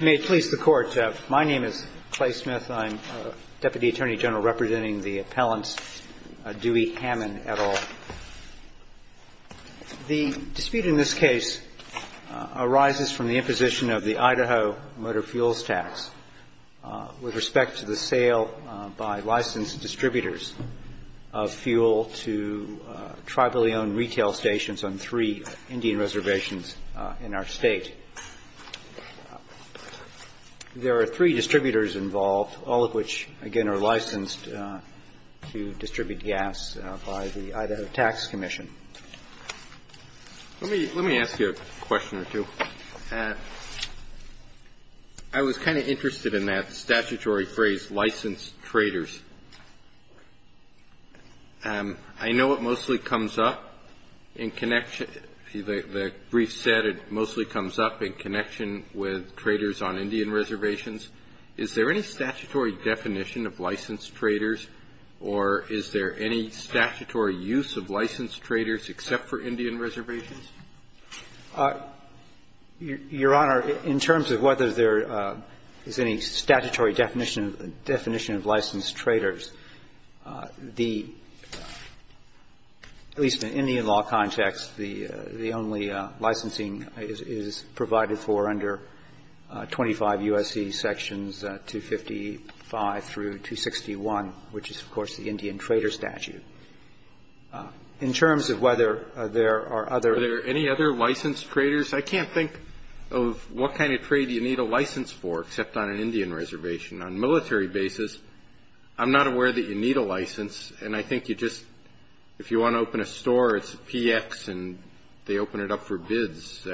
The dispute in this case arises from the imposition of the Idaho motor fuels tax with respect to the sale by licensed distributors of fuel to tribally owned retail stations on three Indian reservations in our state. There are three distributors involved, all of which again are licensed to distribute gas by the Idaho Tax Commission. Let me ask you a question or two. I was kind of interested in that statutory phrase licensed traders. I know it mostly comes up in connection with traders on Indian reservations. Is there any statutory definition of licensed traders or is there any statutory use of licensed traders except for Indian reservations? Your Honor, in terms of whether there is any statutory definition of licensed traders, the at least in Indian law context, the only licensing is provided for under 25 U.S.C. Sections 255 through 261, which is of course the Indian trader statute. In terms of whether there are other... Are there any other licensed traders? I can't think of what kind of trade you need a license for except on an Indian reservation. On military basis, I'm not aware that you need a license and I think you just, if you want to open a store, it's PX and they open it up for bids,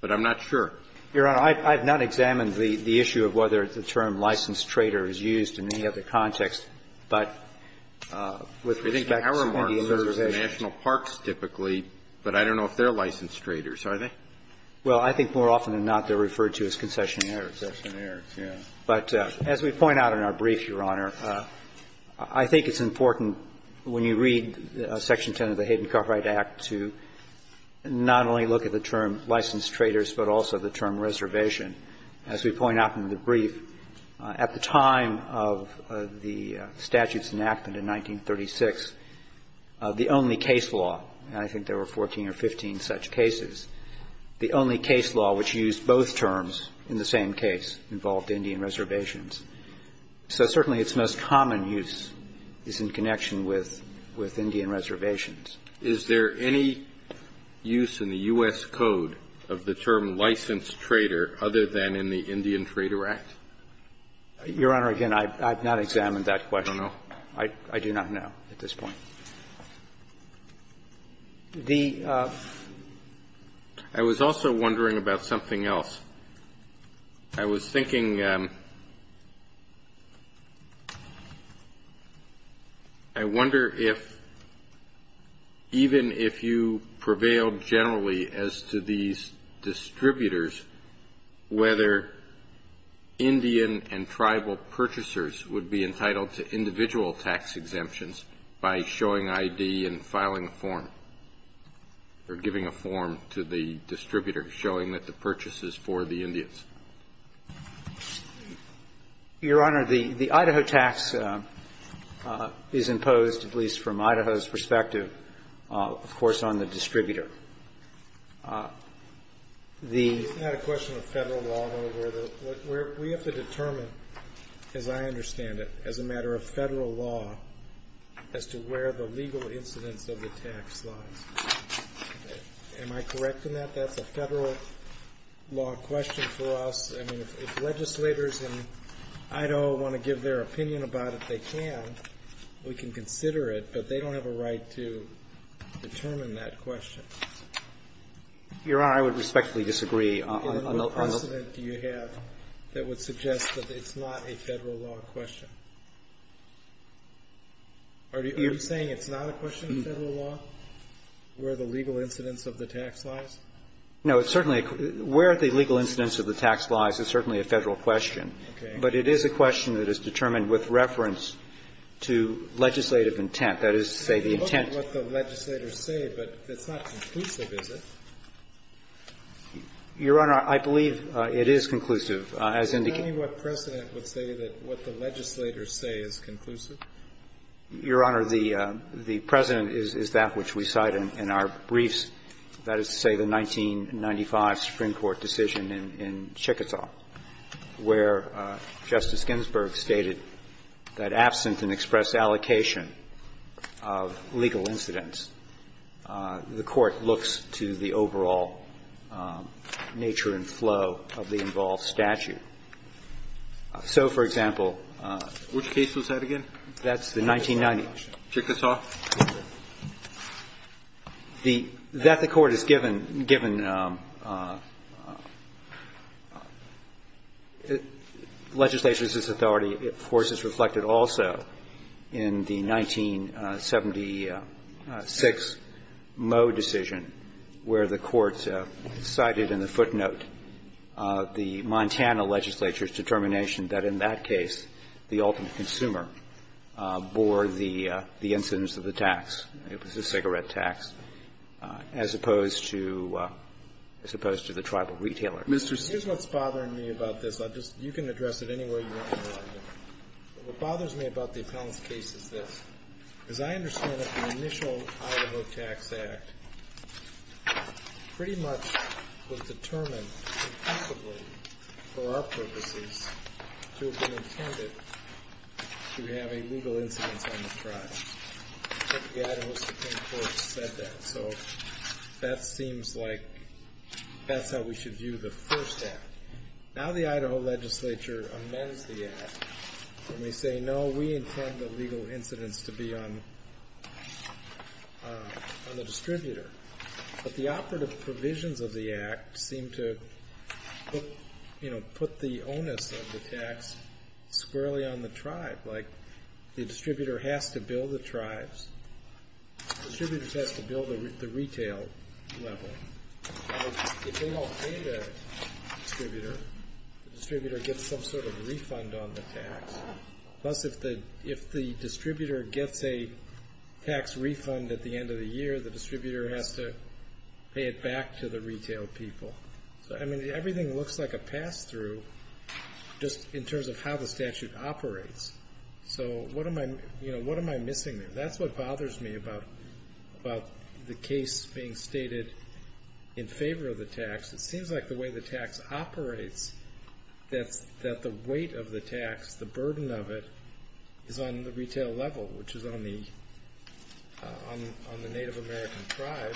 but I'm not sure. Your Honor, I've not examined the issue of whether the term licensed trader is used in any other context, but with respect to Indian reservations... I think our remarks are for national parks typically, but I don't know if they're licensed traders, are they? Well, I think more often than not, they're referred to as concessionaires, but as we point out in our briefs, Your Honor, I think it's important when you read Section 10 of the Hayden-Coffright Act to not only look at the term licensed traders, but also the term reservation. As we point out in the brief, at the time of the statute's enactment in 1936, the only case law, and I think there were 14 or 15 such cases, the only case law which used both terms in the same case involved Indian reservations. So certainly its most Is there any use in the U.S. code of the term licensed trader other than in the Indian Trader Act? Your Honor, again, I've not examined that question. I do not know at this point. I was also wondering about something else. I was thinking, I wonder if even if you prevailed generally as to these distributors, whether Indian and tribal purchasers would be entitled to individual tax exemptions by showing ID and filing a form or giving a form to the distributor showing that the purchase is for the Indians. Your Honor, the Idaho tax is imposed, at least from Idaho's perspective, of course, on the distributor. I have a question on federal law and order. We have to determine, as I understand it, as a matter of federal law, as to where the legal incidence of the tax was. Am I correct in that that's a federal law question for us? I mean, if legislators in Idaho want to give their opinion about it, they can. We can consider it, but they don't have a right to determine that question. Your Honor, I would respectfully disagree on that. What precedent do you have that would suggest that it's not a federal law question? Are you saying it's not a question of federal law where the legal incidence of the tax lies? No, it's certainly a question. Where the legal incidence of the tax lies is certainly a federal question. Okay. But it is a question that is determined with reference to legislative intent. That is, say, the intent... It's okay what the legislators say, but it's not conclusive, is it? Your Honor, I believe it is conclusive, as indicated... Can you tell me what precedent would say that what the legislators say is conclusive? Your Honor, the precedent is that which we cite in our briefs. That is to say, the 1995 Supreme Court decision in Chickasaw, where Justice Ginsburg stated that absent an expressed allocation of legal incidence, the Court looks to the overall nature and flow of the involved statute. So, for example... Which case was that again? That's the 1990... Chickasaw? That the Court has given legislatures this authority, of course, is reflected also in the 1976 Moe decision, where the Court cited in the footnote the Montana legislature's ultimate consumer bore the incidence of the tax. It was a cigarette tax, as opposed to the tribal retailer. Mr. Steele... Here's what's bothering me about this. You can address it any way you want to. What bothers me about the appellant's case is this. As I understand it, the initial Idaho Tax Act pretty much was determined, impossibly, for our purposes, to have been intended to have a legal incidence on the tribe. The Idaho Supreme Court said that. So, that seems like that's how we should view the first act. Now the Idaho legislature amends the act, and But the operative provisions of the act seem to put the onus of the tax squarely on the tribe. Like, the distributor has to bill the tribes. Distributors have to bill the retail level. If they don't pay the distributor, the distributor gets some sort of refund on the tax. Plus, if the distributor gets a tax refund at the end of the year, the distributor has to pay it back to the retail people. Everything looks like a pass-through, just in terms of how the statute operates. So, what am I missing there? That's what bothers me about the case being stated in favor of the tax. It seems like the way the tax operates, that the weight of the tax, the burden of it, is on the retail level, which is on the Native American tribe.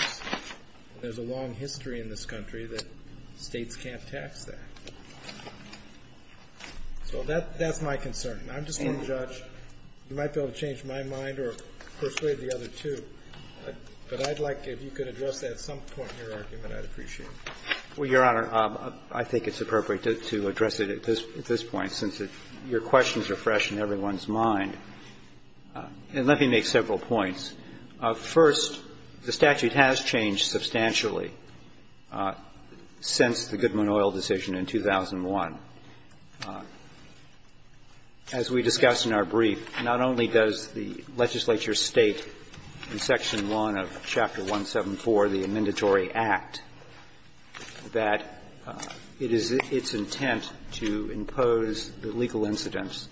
There's a long history in this country that states can't tax that. So, that's my concern. I'm just going to judge. You might be able to change my mind or persuade the other two. But I'd like to, if you could address that at some point in your argument, I'd appreciate it. Well, Your Honor, I think it's appropriate to address it at this point, since your questions are fresh in everyone's mind. And let me make several points. First, the statute has changed substantially since the Goodman Oil decision in 2001. As we discussed in our brief, not only does the legislature state in Section 1 of Chapter 174 of the Amendatory Act that it is its intent to impose the legal incidence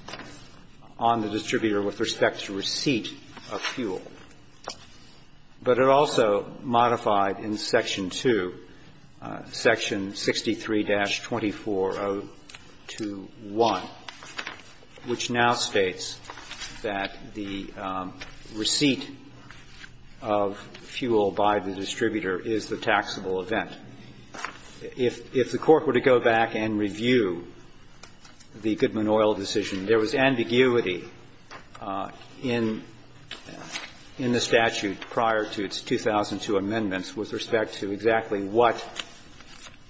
on the distributor with respect to receipt of fuel, but it also modified in Section 2, Section 63-24021, which now states that the receipt of fuel by the distributor is the taxable event. If the Court were to go back and review the Goodman Oil decision, there was ambiguity in the statute prior to its 2002 amendments with respect to exactly what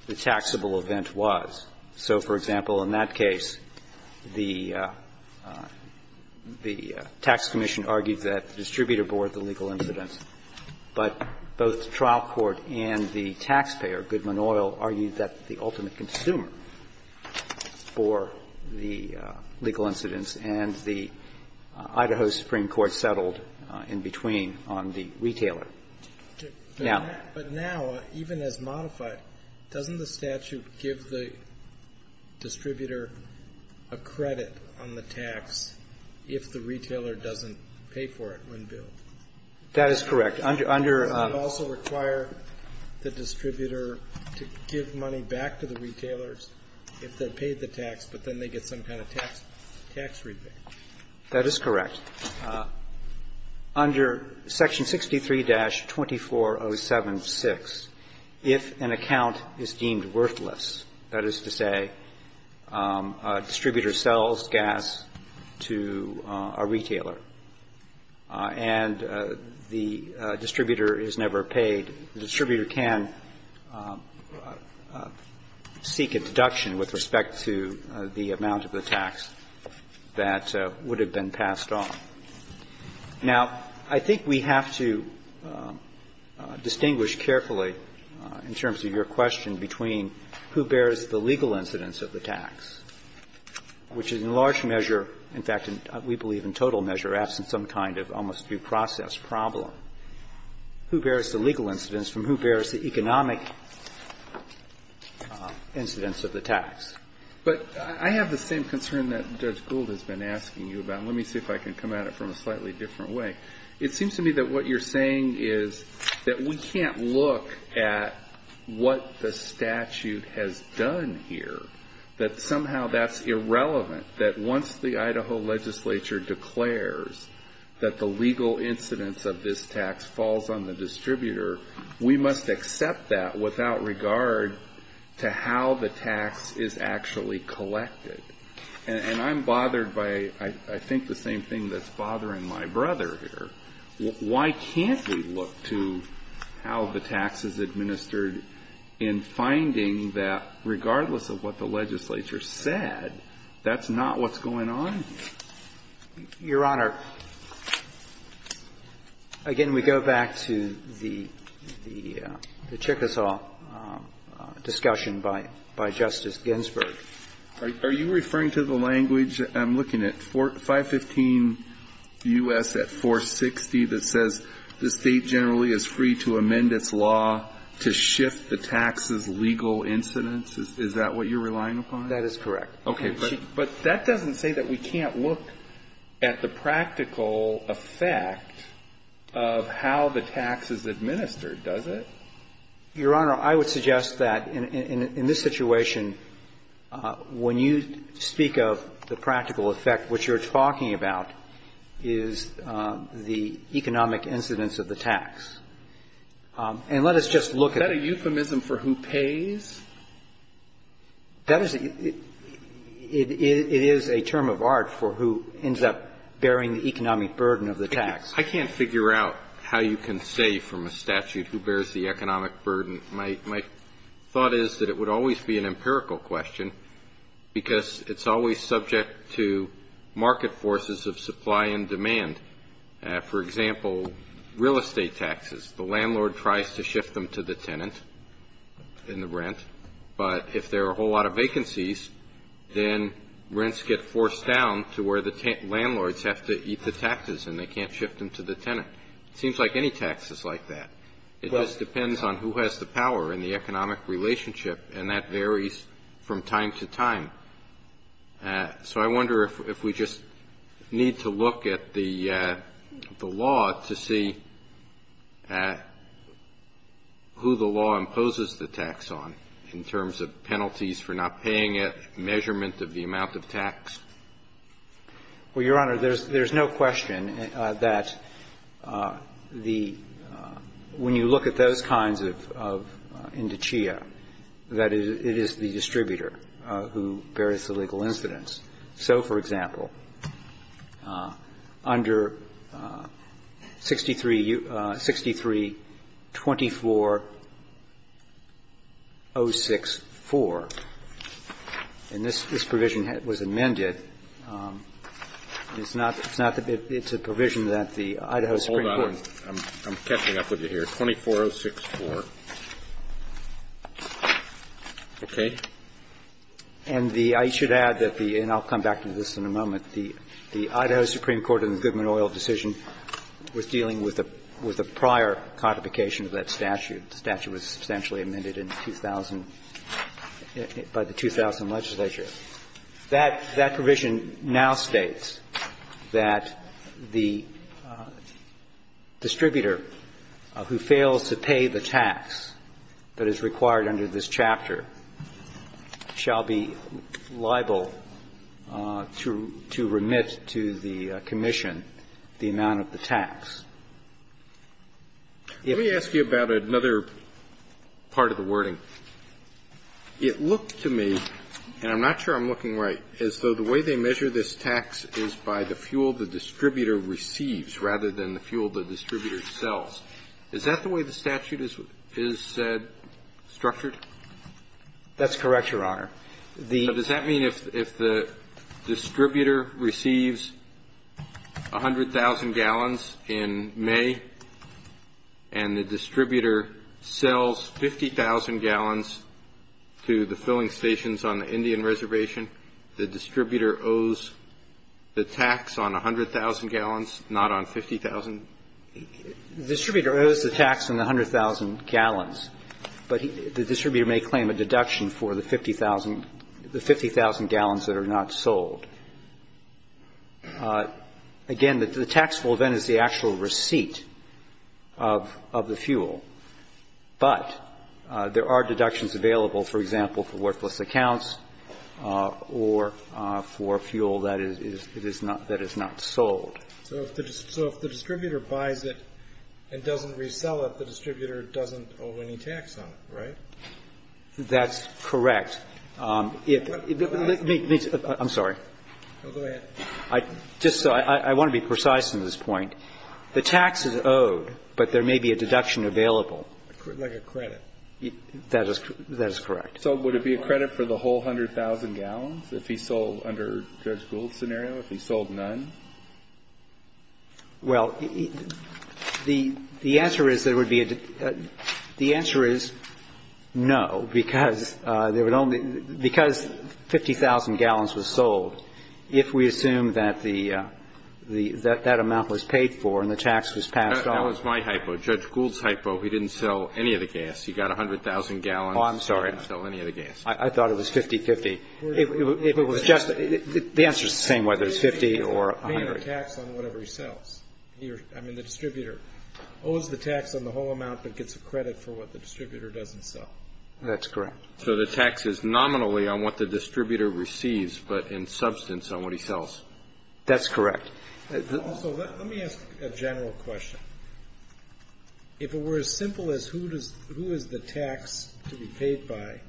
the taxable event was. So, for example, in that case, the tax commission argued that the distributor bore the legal incidence. But both the trial court and the taxpayer, Goodman Oil, argued that the ultimate consumer bore the legal incidence. And the Idaho Supreme Court settled in between on the retailer. But now, even as modified, doesn't the statute give the distributor a credit on the tax if the retailer doesn't pay for it when billed? That is correct. It would also require the distributor to give money back to the retailers if they paid the tax, but then they get some kind of tax rebate. That is correct. Under Section 63-24076, if an account is deemed worthless, that is to say, a distributor sells gas to a retailer, and the distributor is never paid, the distributor can seek a deduction with respect to the amount of the tax that would have been passed on. Now, I think we have to distinguish carefully, in terms of your question, between who bears the legal incidence of the tax, which is in large measure, in fact, we believe in total measure, asking some kind of almost due process problem. Who bears the legal incidence and who bears the economic incidence of the tax? I have the same concern that Judge Gould has been asking you about. Let me see if I can come at it from a slightly different way. It seems to me that what you're saying is that we can't look at what the statute has done here, that somehow that's irrelevant, that once the Idaho legislature declares that the legal incidence of this tax falls on the distributor, we must accept that without regard to how the tax is actually collected. And I'm bothered by, I think, the same thing that's bothering my brother here. Why can't we look to how the tax is administered in finding that, regardless of what the legislature said, that's not what's going on here? Your Honor, again, we go back to the Chickasaw discussion by Justice Ginsburg. Are you referring to the language? I'm looking at 515 U.S. at 460 that says the state generally is free to amend its law to shift the tax's legal incidence? That is correct. But that doesn't say that we can't look at the practical effect of how the tax is administered, does it? Your Honor, I would suggest that in this situation, when you speak of the practical effect, what you're talking about is the economic incidence of the tax. Is that a euphemism for who pays? It is a term of art for who ends up bearing the economic burden of the tax. I can't figure out how you can say from a statute who bears the economic burden. My thought is that it would always be an empirical question because it's always subject to taxes. The landlord tries to shift them to the tenant in the rent. But if there are a whole lot of vacancies, then rents get forced down to where the landlords have to eat the taxes and they can't shift them to the tenant. It seems like any tax is like that. It just depends on who has the power in the economic relationship, and that varies from time to time. So I wonder if we just need to look at the law to see at who the law imposes the tax on in terms of penalties for not paying a measurement of the amount of tax. Well, Your Honor, there's no question that when you look at those kinds of So, for example, under 63 24064, and this provision was amended, it's a provision that the Idaho Supreme Court I'm catching up with you here, 24064. Okay. And I should add that the, and I'll come back to this in a moment, the Idaho Supreme Court in the Goodman Oil decision was dealing with a prior codification of that statute. The statute was substantially amended by the 2000 legislature. That provision now states that the distributor who fails to pay the tax that is required under this chapter shall be liable to remit to the commission the amount of the tax. Let me ask you about another part of the wording. It looked to me, and I'm not sure I'm looking right, as though the way they measure this tax is by the fuel the distributor receives rather than the fuel the distributor sells. Is that the way the statute is said, structured? That's correct, Your Honor. Does that mean if the distributor receives 100,000 gallons in May and the distributor sells 50,000 gallons to the filling stations on the Indian reservation, the distributor owes the tax on 100,000 gallons, not on 50,000? The distributor owes the tax on the 100,000 gallons, but the distributor may claim a deduction for the 50,000 gallons that are not sold. Again, the tax will then be the actual receipt of the fuel, but there are deductions available, for example, for worthless accounts or for fuel that is not sold. So if the distributor buys it and doesn't resell it, the distributor doesn't owe any tax on it, right? That's correct. I'm sorry. I want to be precise in this point. The tax is owed, but there may be a deduction available. Like a credit. That is correct. So would it be a credit for the whole 100,000 gallons if he sold under Judge Gould's scenario, if he sold none? Well, the answer is no, because 50,000 gallons was sold. If we assume that that amount was paid for and the tax was passed off... That was my hypo. Judge Gould's hypo. He didn't sell any of the gas. He got 100,000 gallons. Oh, I'm sorry. He didn't sell any of the gas. I thought it was 50-50. The answer is the same, whether it's 50 or 100. He didn't pay the tax on whatever he sells. I mean, the distributor owes the tax on the whole amount that gets a credit for what the distributor doesn't sell. That's correct. So the tax is nominally on what the distributor receives, but in substance on what he sells. That's correct. Also, let me ask a general question. If it were as simple as who is the tax to be paid by,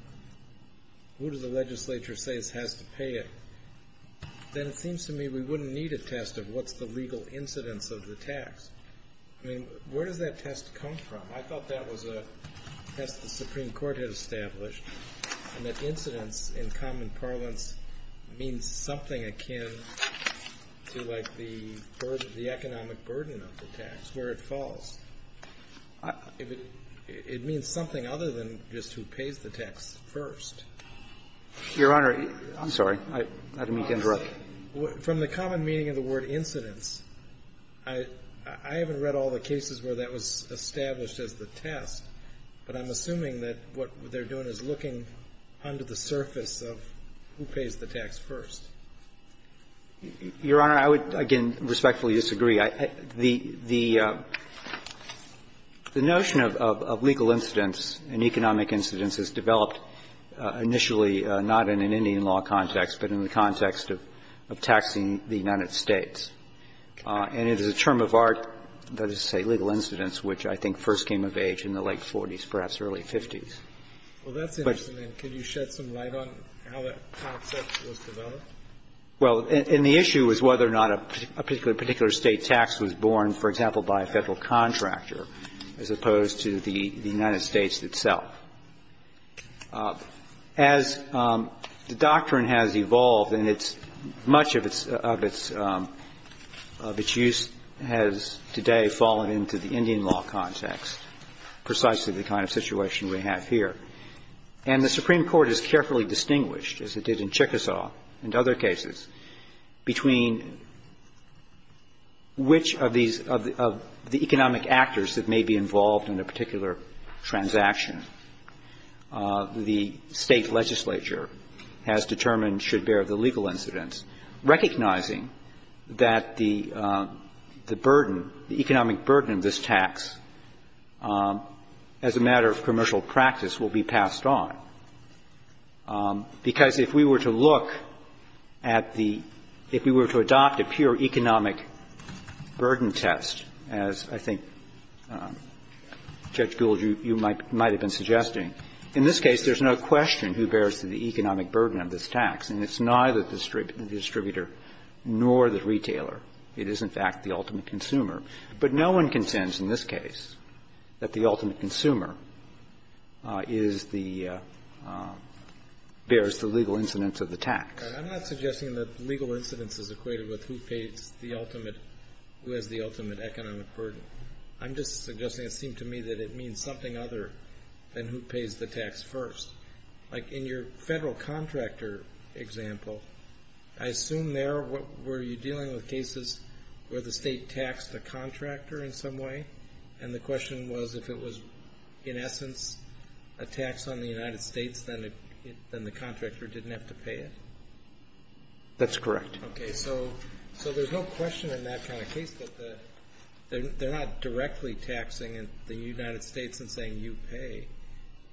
who do the legislature say has to pay it, then it seems to me we wouldn't need a test of what's the legal incidence of the tax. I mean, where does that test come from? I thought that was a test the Supreme Court had established, and that incidence in common parlance means something akin to like the economic burden of the tax, where it falls. It means something other than just who pays the tax first. Your Honor, I'm sorry. I didn't mean to interrupt. From the common meaning of the word incidence, I haven't read all the cases where that was established as the test, but I'm assuming that what they're doing is looking under the surface of who pays the tax first. Your Honor, I would, again, respectfully disagree. The notion of legal incidence and economic incidence is developed initially not in an Indian law context, but in the context of taxing the United States, and it is a term of art that is to say legal incidence, which I think first came of age in the late 40s, perhaps early 50s. Well, that's interesting. Can you shed some light on how that tax test was developed? Well, and the issue is whether or not a particular state tax was borne, for example, by a federal contractor, as opposed to the United States itself. As the doctrine has evolved, and much of its use has today fallen into the Indian law context, precisely the kind of situation we have here. And the Supreme Court has carefully distinguished, as it did in Chickasaw and other cases, between which of the economic actors that may be involved in a particular transaction. The state legislature has determined should bear the legal incidence, recognizing that the burden, the economic burden of this tax, as a matter of commercial practice, will be passed on. Because if we were to look at the, if we were to adopt a pure economic burden test, as I think Judge Gould, you might have been suggesting, in this case there's no question who bears the economic burden of this tax, and it's neither the distributor nor the retailer. It is, in fact, the ultimate consumer. But no one contends, in this case, that the ultimate consumer is the, bears the legal incidence of the tax. I'm not suggesting that legal incidence is equated with who pays the ultimate, who has the ultimate economic burden. I'm just suggesting it seemed to me that it means something other than who pays the tax first. Like in your federal contractor example, I assume there, what, were you dealing with cases where the state taxed the contractor in some way? And the question was if it was, in essence, a tax on the United States, then the contractor didn't have to pay it? That's correct. Okay. So there's no question in that kind of case that they're not directly taxing the United States and saying you pay.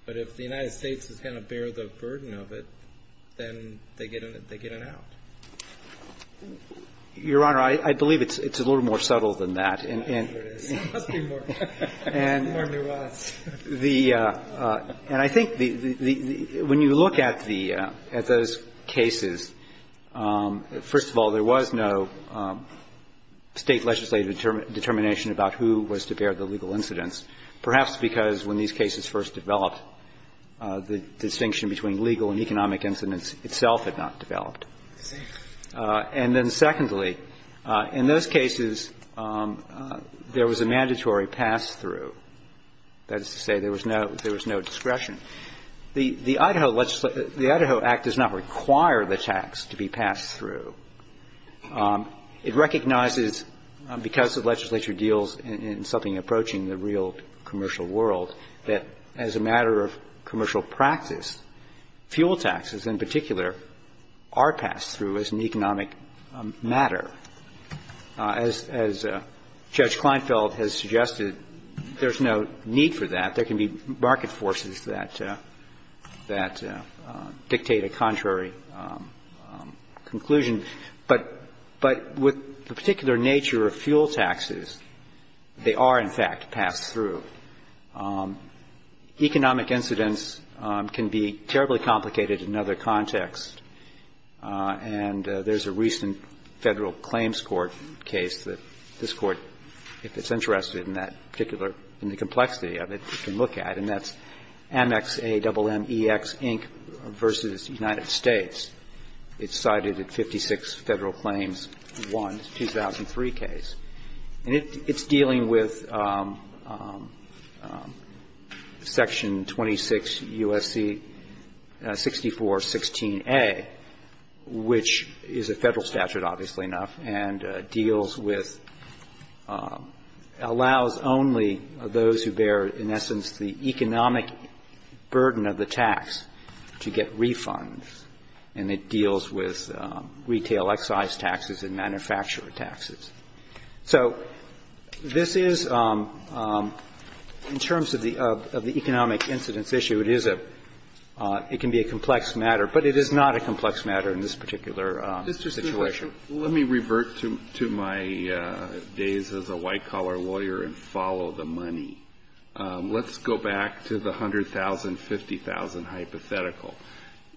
But if the United States is going to bear the burden of it, then they get it out. Your Honor, I believe it's a little more subtle than that. It is. It's more nuanced. And I think when you look at the, at those cases, first of all, there was no state legislative determination about who was to bear the legal incidence, perhaps because when these cases first developed, the distinction between legal and economic incidence itself had not developed. And then secondly, in those cases, there was a mandatory pass-through. That is to say there was no discretion. The Idaho Act does not require the tax to be passed through. It recognizes, because the legislature deals in something approaching the real commercial world, that as a matter of commercial practice, fuel taxes, in particular, are passed through as an economic matter. As Judge Kleinfeld has suggested, there's no need for that. There can be market forces that dictate a contrary conclusion. But with the particular nature of fuel taxes, they are, in fact, passed through. Economic incidence can be terribly complicated in other contexts. And there's a recent Federal Claims Court case that this Court, if it's interested in that particular, in the complexity of it, can look at. And that's Amex, A-double-M-E-X, Inc. v. United States. It's cited at 56 Federal Claims 1, 2003 case. And it's dealing with Section 26 U.S.C. 6416A, which is a federal statute, obviously enough, and deals with, allows only those who bear, in essence, the economic burden of the tax to get refunds. And it deals with retail excise taxes and manufacturer taxes. So this is, in terms of the economic incidence issue, it can be a complex matter. But it is not a complex matter in this particular situation. Let me revert to my days as a white-collar lawyer and follow the money. Let's go back to the $100,000, $50,000 hypothetical.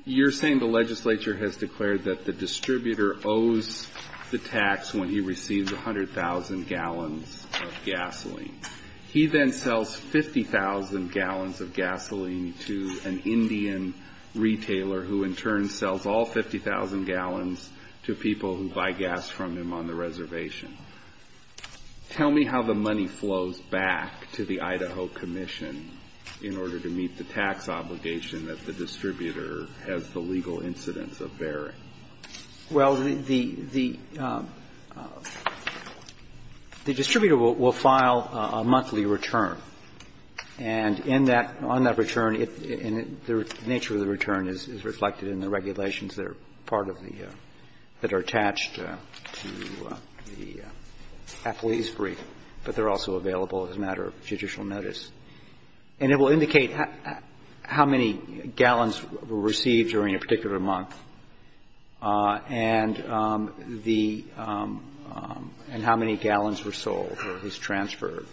You're saying the legislature has declared that the distributor owes the tax when he receives 100,000 gallons of gasoline. He then sells 50,000 gallons of gasoline to an Indian retailer who, in turn, sells all 50,000 gallons to people who buy gas from him on the reservation. Tell me how the money flows back to the Idaho Commission in order to meet the tax obligation that the distributor has the legal incidence of bearing. Well, the distributor will file a monthly return. And on that return, the nature of the return is reflected in the regulations that are part of the, that are attached to the affilees brief, but they're also available as a matter of judicial notice. And it will indicate how many gallons were received during a particular month and how many gallons were sold or was transferred.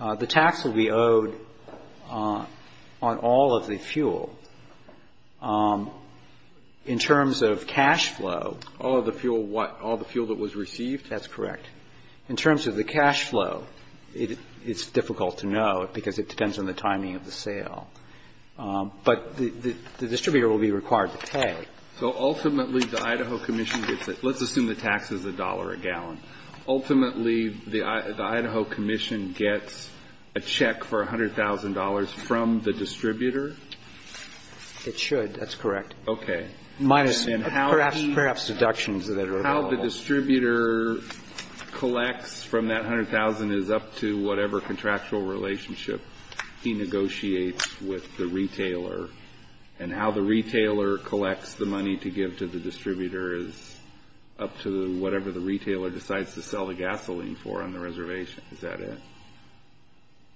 The tax will be owed on all of the fuel. In terms of cash flow- All of the fuel, what? All the fuel that was received? That's correct. In terms of the cash flow, it's difficult to know because it depends on the timing of the sale. But the distributor will be required to pay. So, ultimately, the Idaho Commission gets it. Let's assume the tax is $1 a gallon. Ultimately, the Idaho Commission gets a check for $100,000 from the distributor? It should. That's correct. Okay. Minus perhaps deductions that are available. How the distributor collects from that $100,000 is up to whatever contractual relationship he negotiates with the retailer. And how the retailer collects the money to give to the distributor is up to whatever the retailer decides to sell the gasoline for on the reservation. Is that it?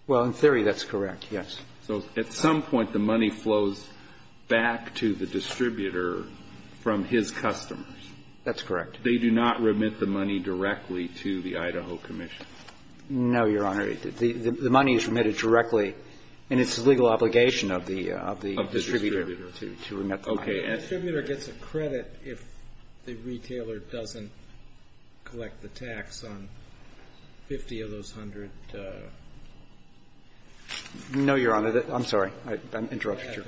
Well, in theory, that's correct, yes. So, at some point, the money flows back to the distributor from his customers? That's correct. They do not remit the money directly to the Idaho Commission? No, Your Honor. The money is remitted directly, and it's a legal obligation of the distributor to remit the money. Okay. The distributor gets a credit if the retailer doesn't collect the tax on 50 of those 100? No, Your Honor. I'm sorry. I interrupted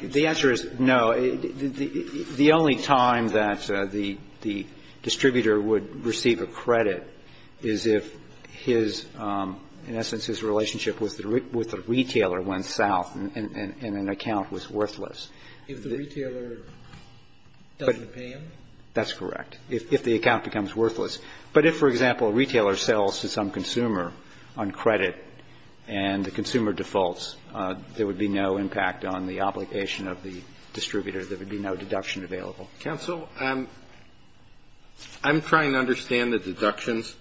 you. The answer is no. The only time that the distributor would receive a credit is if, in essence, his relationship with the retailer went south and an account was worthless. If the retailer doesn't pay him? That's correct, if the account becomes worthless. But if, for example, a retailer sells to some consumer on credit and the consumer defaults, there would be no impact on the obligation of the distributor. There would be no deduction available. Counsel, I'm trying to understand the deductions,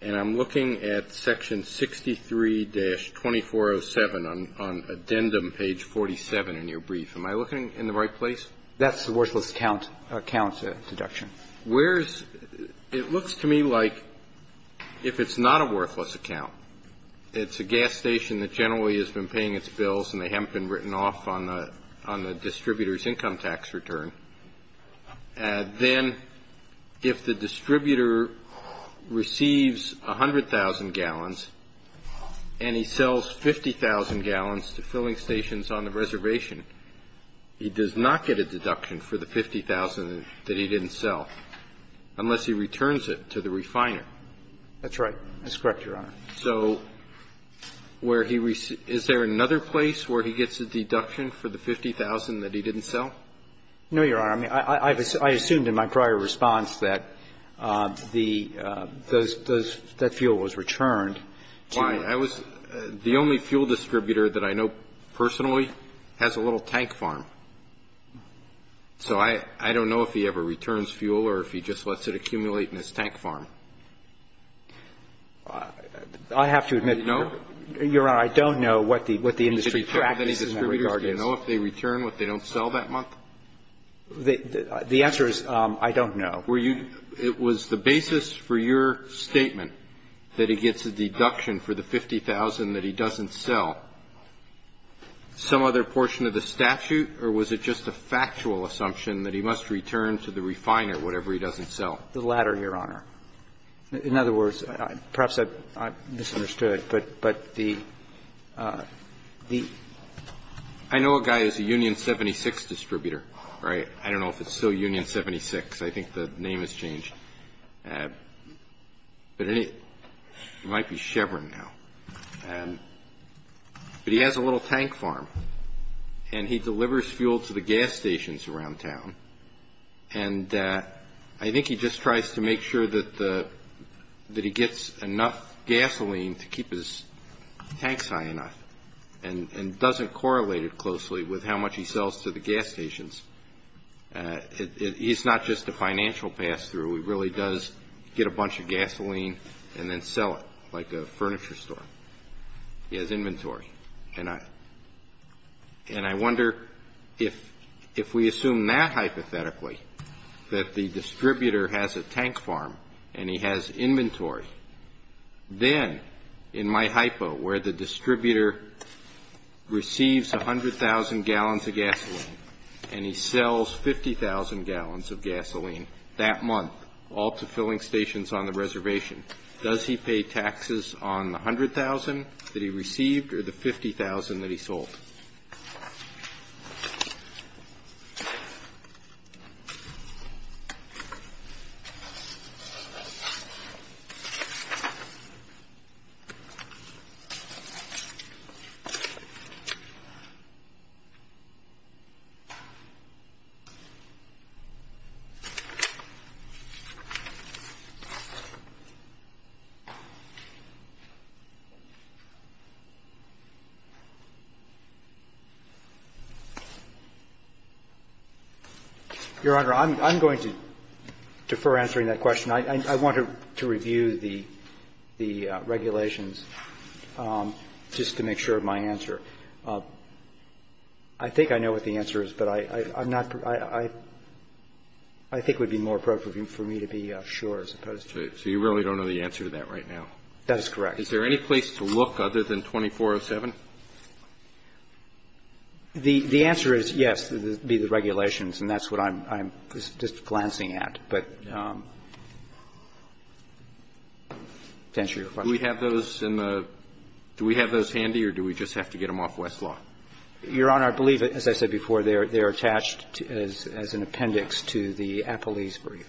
and I'm looking at Section 63-2407 on addendum page 47 in your brief. Am I looking in the right place? That's the worthless accounts deduction. It looks to me like if it's not a worthless account, it's a gas station that generally has been paying its bills and they haven't been written off on the distributor's income tax return, then if the distributor receives 100,000 gallons and he sells 50,000 gallons to filling stations on the reservation, he does not get a deduction for the 50,000 that he didn't sell unless he returns it to the refiner. That's right. That's correct, Your Honor. So is there another place where he gets a deduction for the 50,000 that he didn't sell? No, Your Honor. I assumed in my prior response that that fuel was returned. The only fuel distributor that I know personally has a little tank farm, so I don't know if he ever returns fuel or if he just lets it accumulate in his tank farm. I have to admit, Your Honor, I don't know what the industry practices in that regard. Do you know if they return what they don't sell that month? The answer is I don't know. It was the basis for your statement that he gets a deduction for the 50,000 that he doesn't sell. Some other portion of the statute, or was it just a factual assumption that he must return to the refiner whatever he doesn't sell? The latter, Your Honor. In other words, perhaps I've misunderstood, but the... I know a guy who's a Union 76 distributor, right? I don't know if it's still Union 76. I think the name has changed. It might be Chevron now. But he has a little tank farm, and he delivers fuel to the gas stations around town, and I think he just tries to make sure that he gets enough gasoline to keep his tanks high enough and doesn't correlate it closely with how much he sells to the gas stations. He's not just a financial pass-through. He really does get a bunch of gasoline and then sell it, like a furniture store. He has inventory. And I wonder if we assume that hypothetically, that the distributor has a tank farm and he has inventory, then, in my hypo, where the distributor receives 100,000 gallons of gasoline and he sells 50,000 gallons of gasoline that month all to filling stations on the reservation, does he pay taxes on the 100,000 that he received or the 50,000 that he sold? I don't know. The regulations, just to make sure of my answer. I think I know what the answer is, but I think it would be more appropriate for me to be sure. So you really don't know the answer to that right now? That is correct. Is there any place to look other than 2407? The answer is yes, the regulations, and that's what I'm just glancing at. Do we have those handy or do we just have to get them off Westlaw? Your Honor, I believe, as I said before, they're attached as an appendix to the appellees brief.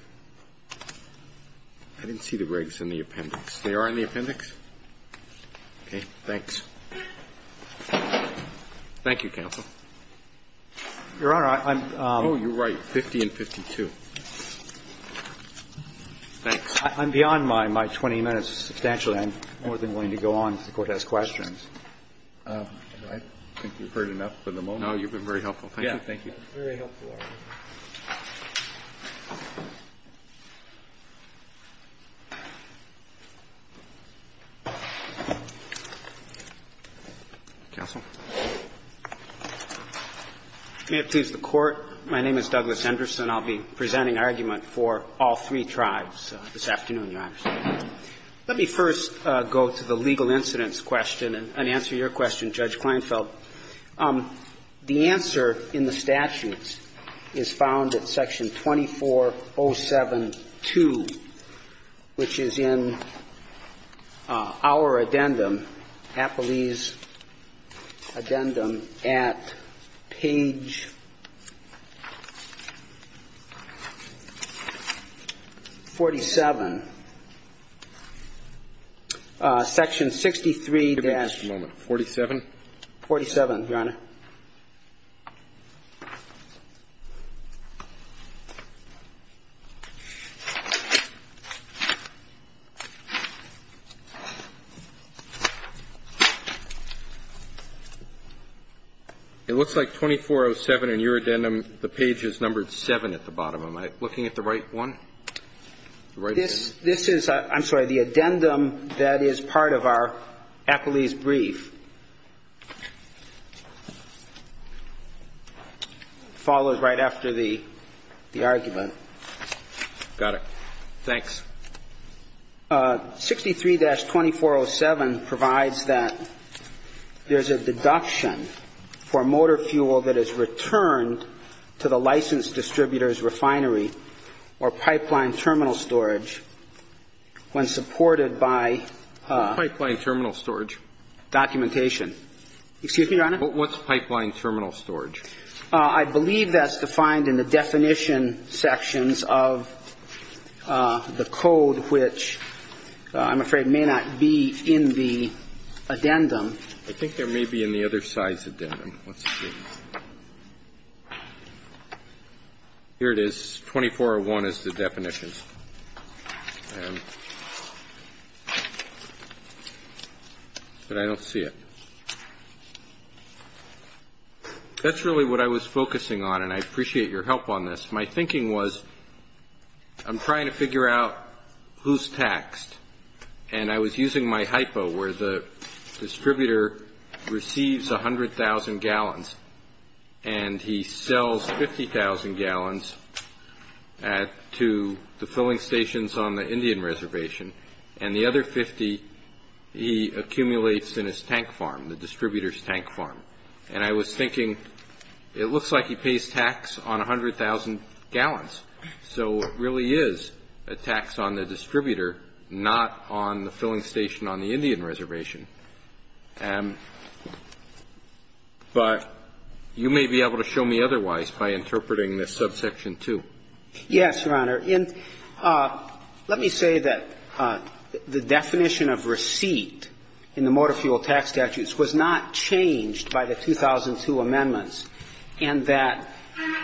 I didn't see the regs in the appendix. They are in the appendix? Okay, thanks. Thank you, counsel. Your Honor, I'm... Oh, you're right, 50 and 52. I'm beyond my 20 minutes substantially. I'm more than willing to go on and go ahead and ask questions. I think we've heard enough for the moment. No, you've been very helpful. Thank you. Very helpful. Counsel? May it please the Court, my name is Douglas Henderson. I'll be presenting an argument for all three tribes this afternoon, Your Honor. Let me first go to the legal incidents question and answer your question, Judge Kleinfeld. The answer in the statute is found at section 2407.2, which is in our addendum, appellee's addendum, at page 47. Section 63-47, Your Honor. It looks like 2407 in your addendum, the page is numbered 7 at the bottom. Am I looking at the right one? This is, I'm sorry, the addendum that is part of our appellee's brief. Followed right after the argument. Got it. Thanks. 63-2407 provides that there's a deduction for motor fuel that is returned to the licensed distributor's refinery or pipeline terminal storage when supported by... Pipeline terminal storage. ...documentation. Excuse me, Your Honor? What's pipeline terminal storage? I believe that's defined in the definition sections of the code, which I'm afraid may not be in the addendum. I think there may be in the other side's addendum. Here it is. 2401 is the definition. But I don't see it. This is really what I was focusing on, and I appreciate your help on this. My thinking was, I'm trying to figure out who's taxed, and I was using my hypo, where the distributor receives 100,000 gallons, and he sells 50,000 gallons to the filling stations on the Indian Reservation, and the other 50 he accumulates in his tank farm, the distributor's tank farm. And I was thinking, it looks like he pays tax on 100,000 gallons, so it really is a tax on the distributor, not on the filling station on the Indian Reservation. But you may be able to show me otherwise by interpreting this subsection 2. Yes, Your Honor. Let me say that the definition of receipt in the motor fuel tax statutes was not changed by the 2002 amendments, and that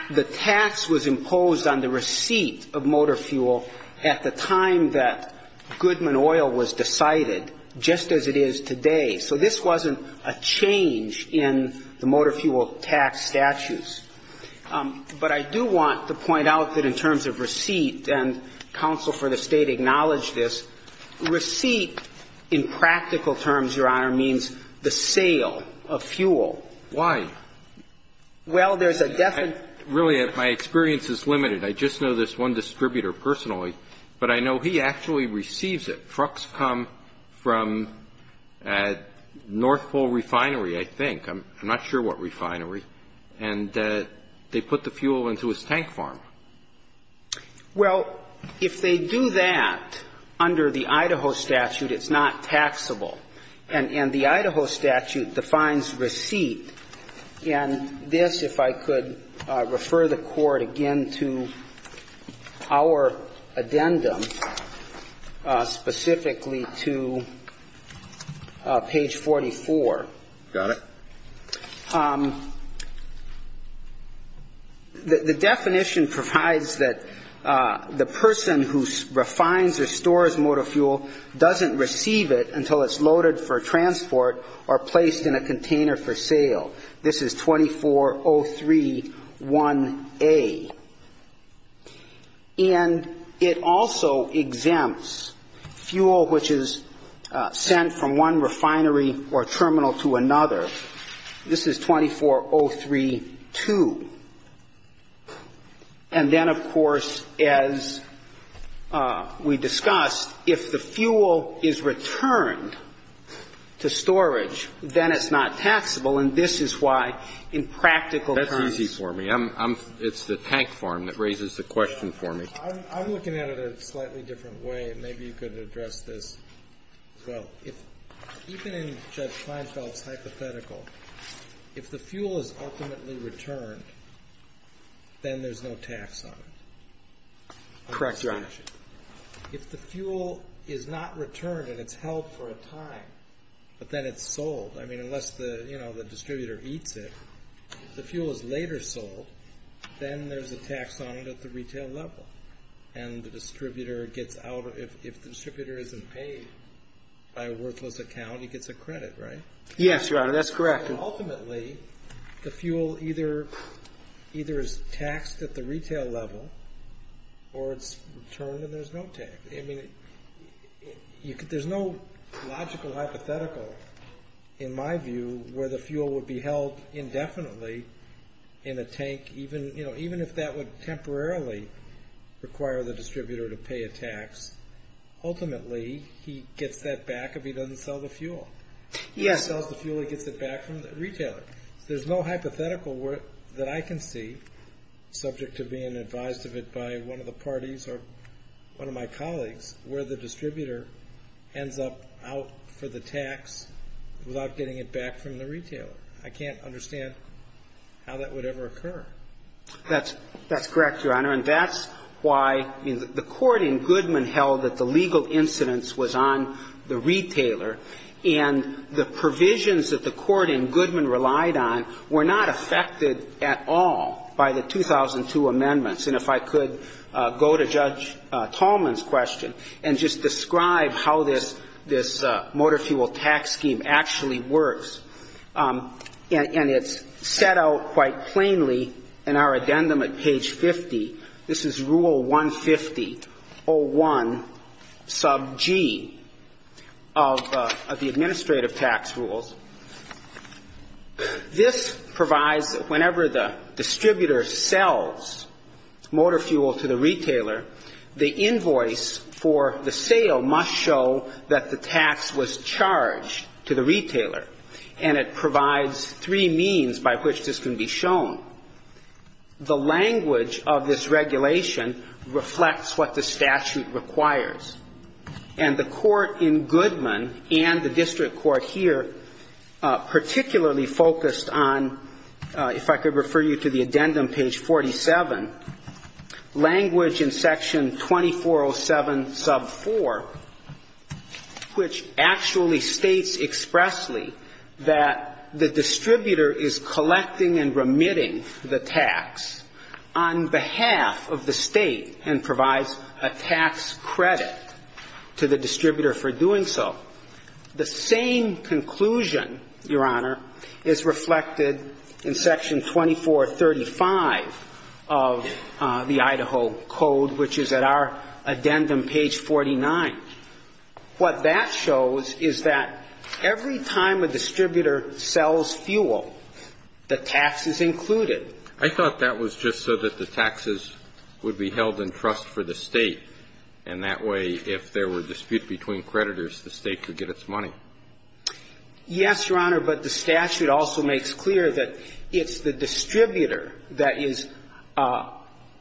the tax was imposed on the receipt of motor fuel at the time that Goodman Oil was decided, just as it is today. So this wasn't a change in the motor fuel tax statutes. But I do want to point out that in terms of receipt, and counsel for the state acknowledged this, receipt in practical terms, Your Honor, means the sale of fuel. Why? Well, there's a definition. Really, my experience is limited. I just know this one distributor personally, but I know he actually receives it. Trucks come from North Pole Refinery, I think. I'm not sure what refinery. And they put the fuel into his tank farm. Well, if they do that under the Idaho statute, it's not taxable. And the Idaho statute defines receipt. And this, if I could refer the Court again to our addendum, specifically to page 44. Got it. The definition provides that the person who refines or stores motor fuel doesn't receive it until it's loaded for transport or placed in a container for sale. This is 2403-1A. And it also exempts fuel which is sent from one refinery or terminal to another. This is 2403-2. And then, of course, as we discussed, if the fuel is returned to storage, then it's not taxable. And this is why in practical terms. It's the tank farm that raises the question for me. I'm looking at it a slightly different way, and maybe you could address this. It's keeping that fine salt hypothetical. If the fuel is ultimately returned, then there's no tax on it. Correct your question. If the fuel is not returned and it's held for a time, but then it's sold, I mean, unless the distributor eats it, if the fuel is later sold, then there's a tax on it at the retail level. And if the distributor isn't paid by a worthless account, he gets a credit, right? Yes, Your Honor, that's correct. Ultimately, the fuel either is taxed at the retail level or it's returned and there's no tax. There's no logical hypothetical, in my view, where the fuel would be held indefinitely in a tank, even if that would temporarily require the distributor to pay a tax. Ultimately, he gets that back if he doesn't sell the fuel. He doesn't sell the fuel, he gets it back from the retailer. There's no hypothetical that I can see, subject to being advised of it by one of the parties or one of my colleagues, where the distributor ends up out for the tax without getting it back from the retailer. I can't understand how that would ever occur. That's correct, Your Honor, and that's why the court in Goodman held that the legal incidence was on the retailer and the provisions that the court in Goodman relied on were not affected at all by the 2002 amendments. If I could go to Judge Tallman's question and just describe how this motor fuel tax scheme actually works. It's set out quite plainly in our addendum at page 50. This is Rule 150.01 sub G of the administrative tax rules. This provides that whenever the distributor sells motor fuel to the retailer, the invoice for the sale must show that the tax was charged to the retailer, and it provides three means by which this can be shown. The language of this regulation reflects what the statute requires, and the court in Goodman and the district court here particularly focused on, if I could refer you to the addendum, page 47, language in section 2407 sub 4, which actually states expressly that the distributor is collecting and remitting the tax on behalf of the state and provides a tax credit to the distributor for doing so. The same conclusion, Your Honor, is reflected in section 2435 of the Idaho Code, which is at our addendum, page 49. What that shows is that every time a distributor sells fuel, the tax is included. I thought that was just so that the taxes would be held in trust for the state, and that way if there were disputes between creditors, the state could get its money. Yes, Your Honor, but the statute also makes clear that it's the distributor that is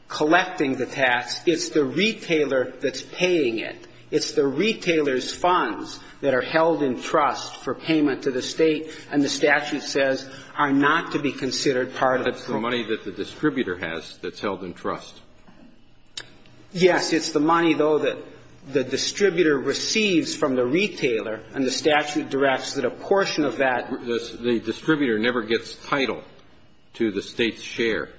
collecting the tax. It's the retailer that's paying it. It's the retailer's funds that are held in trust for payment to the state, and the statute says are not to be considered part of the- It's the money that the distributor has that's held in trust. Yes, it's the money, though, that the distributor receives from the retailer, and the statute directs that a portion of that- The distributor never gets title to the state's share.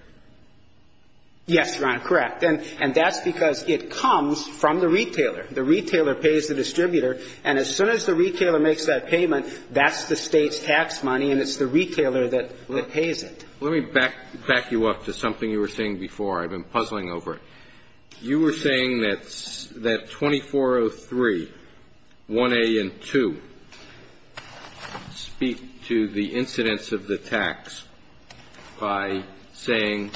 Yes, Your Honor, correct, and that's because it comes from the retailer. The retailer pays the distributor, and as soon as the retailer makes that payment, that's the state's tax money, and it's the retailer that pays it. Let me back you up to something you were saying before I've been puzzling over. You were saying that 2403, 1A and 2 speak to the incidence of the tax by saying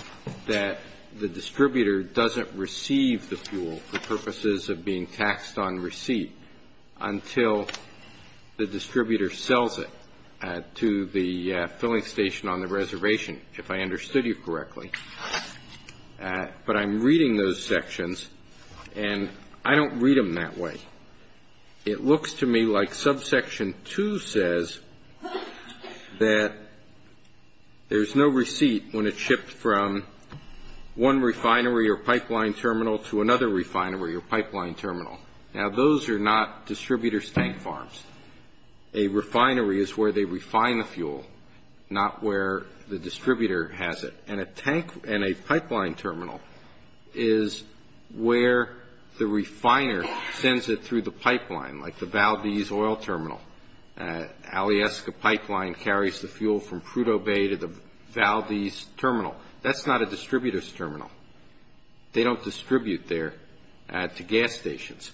that the distributor doesn't receive the fuel for purposes of being taxed on receipt until the distributor sells it to the filling station on the reservation, if I understood you correctly, but I'm reading those sections, and I don't read them that way. It looks to me like subsection 2 says that there's no receipt when it's shipped from one refinery or pipeline terminal to another refinery or pipeline terminal. Now, those are not distributors' tank farms. A refinery is where they refine the fuel, not where the distributor has it, and a tank and a pipeline terminal is where the refiner sends it through the pipeline, like the Valdez Oil Terminal. Alieska Pipeline carries the fuel from Prudhoe Bay to the Valdez Terminal. That's not a distributor's terminal. They don't distribute there to gas stations.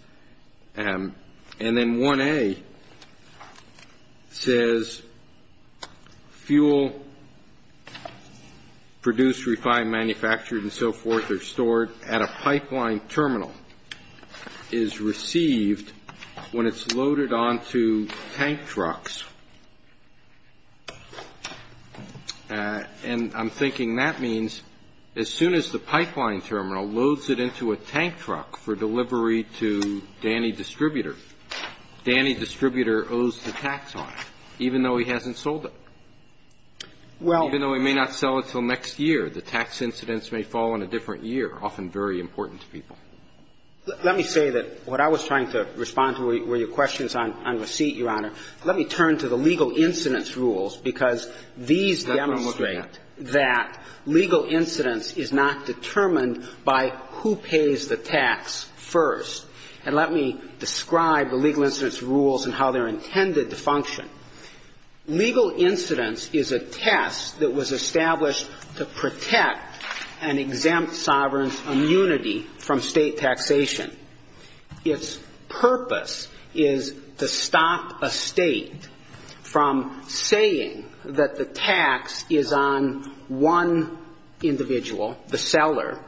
And then 1A says fuel produced, refined, manufactured, and so forth, or stored at a pipeline terminal is received when it's loaded onto tank trucks. And I'm thinking that means as soon as the pipeline terminal loads it into a tank truck for delivery to Danny Distributor, Danny Distributor owes the tax on it, even though he hasn't sold it, even though he may not sell it until next year. The tax incidents may fall in a different year, often very important to people. Let me say that what I was trying to respond to were your questions on receipt, Your Honor. Let me turn to the legal incidence rules, because these demonstrate that legal incidence is not determined by who pays the tax first. And let me describe the legal incidence rules and how they're intended to function. Legal incidence is a test that was established to protect an exempt sovereign's immunity from state taxation. Its purpose is to stop a state from saying that the tax is on one individual, the seller,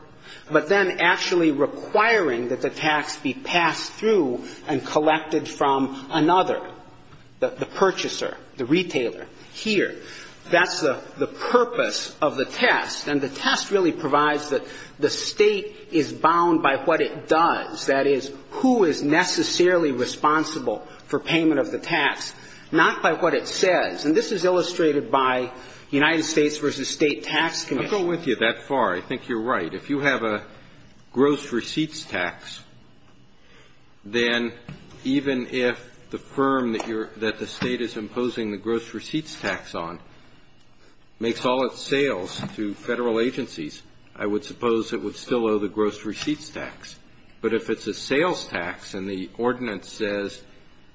but then actually requiring that the tax be passed through and collected from another, the purchaser, the retailer, here. That's the purpose of the test. And the test really provides that the state is bound by what it does, that is, who is necessarily responsible for payment of the tax, not by what it says. And this is illustrated by United States v. State Tax Commission. I'm going with you that far. I think you're right. If you have a gross receipts tax, then even if the firm that the state is imposing the gross receipts tax on makes all its sales to federal agencies, I would suppose it would still owe the gross receipts tax. But if it's a sales tax and the ordinance says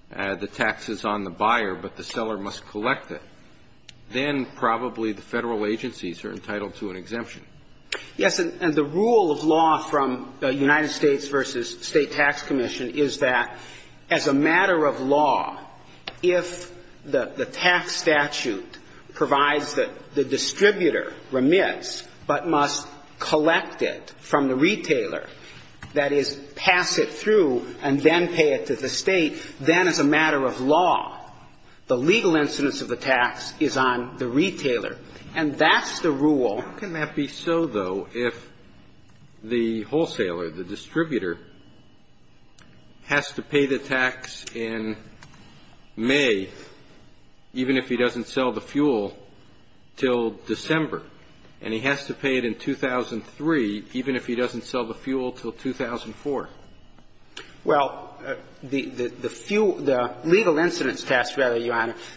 the tax is on the buyer but the seller must collect it, then probably the federal agencies are entitled to an exemption. Yes, and the rule of law from the United States v. State Tax Commission is that as a matter of law, if the tax statute provides that the distributor remits but must collect it from the retailer, that is, pass it through and then pay it to the state, then as a matter of law, the legal incidence of the tax is on the retailer. And that's the rule. How can that be so, though, if the wholesaler, the distributor, has to pay the tax in May even if he doesn't sell the fuel till December and he has to pay it in 2003 even if he doesn't sell the fuel till 2004? Well, the legal incidence tax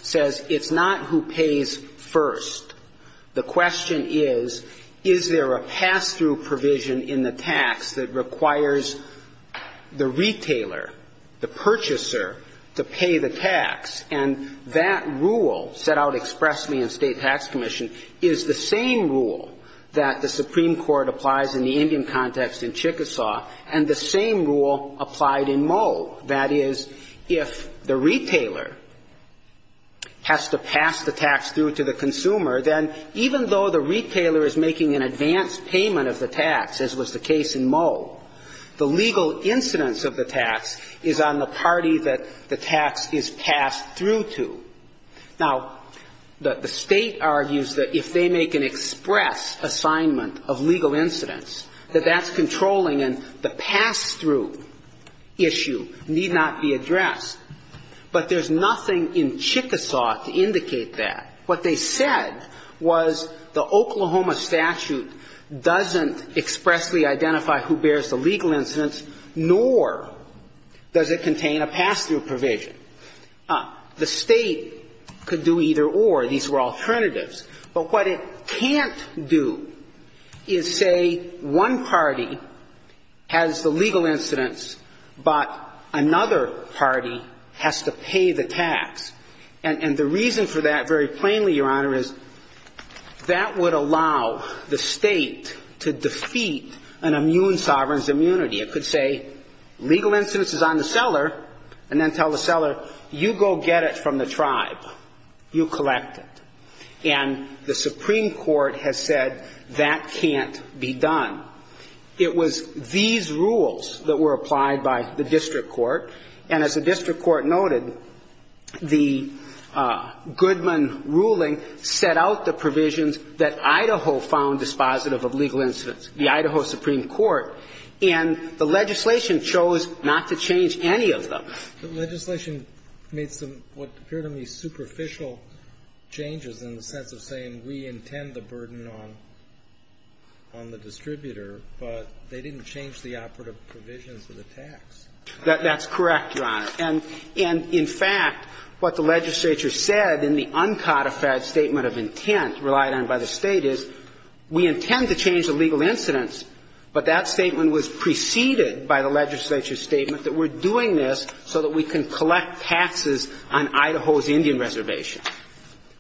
says it's not who pays first. The question is, is there a pass-through provision in the tax that requires the retailer, the purchaser, to pay the tax? And that rule set out expressly in the State Tax Commission is the same rule that the Supreme Court applies in the Indian context in Chickasaw and the same rule applied in Moe. That is, if the retailer has to pass the tax through to the consumer, then even though the retailer is making an advance payment of the tax, as was the case in Moe, the legal incidence of the tax is on the party that the tax is passed through to. Now, the state argues that if they make an express assignment of legal incidence, that that's controlling and the pass-through issue need not be addressed. But there's nothing in Chickasaw to indicate that. What they said was the Oklahoma statute doesn't expressly identify who bears the legal incidence, nor does it contain a pass-through provision. The state could do either or. These were alternatives. But what it can't do is say one party has the legal incidence, but another party has to pay the tax. And the reason for that, very plainly, Your Honor, is that would allow the state to defeat an immune sovereign's immunity. It could say legal incidence is on the seller, and then tell the seller, you go get it from the tribe. You collect it. And the Supreme Court has said that can't be done. It was these rules that were applied by the district court, and as the district court noted, the Goodman ruling set out the provisions that Idaho found dispositive of legal incidence, the Idaho Supreme Court, and the legislation chose not to change any of them. The legislation made what appear to me superficial changes in the sense of saying we intend the burden on the distributor, but they didn't change the operative provisions of the tax. That's correct, Your Honor. And, in fact, what the legislature said in the uncodified statement of intent relied on by the state is we intend to change the legal incidence, but that statement was preceded by the legislature's statement that we're doing this so that we can collect taxes on Idaho's Indian reservation.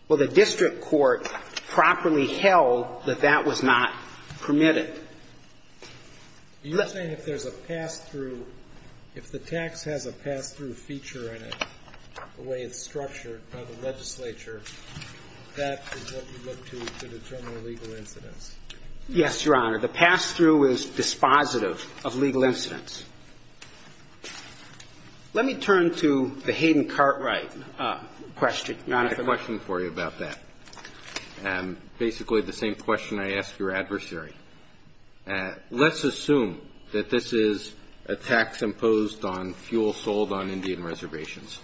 Well, the district court properly held that that was not permitted. You're saying if there's a pass-through, if the tax has a pass-through feature in it, the way it's structured by the legislature, that is what we look to to determine the legal incidence. Yes, Your Honor. The pass-through is dispositive of legal incidence. Let me turn to the Hayden Cartwright question. I have a question for you about that, basically the same question I asked your adversary. Let's assume that this is a tax imposed on fuel sold on Indian reservations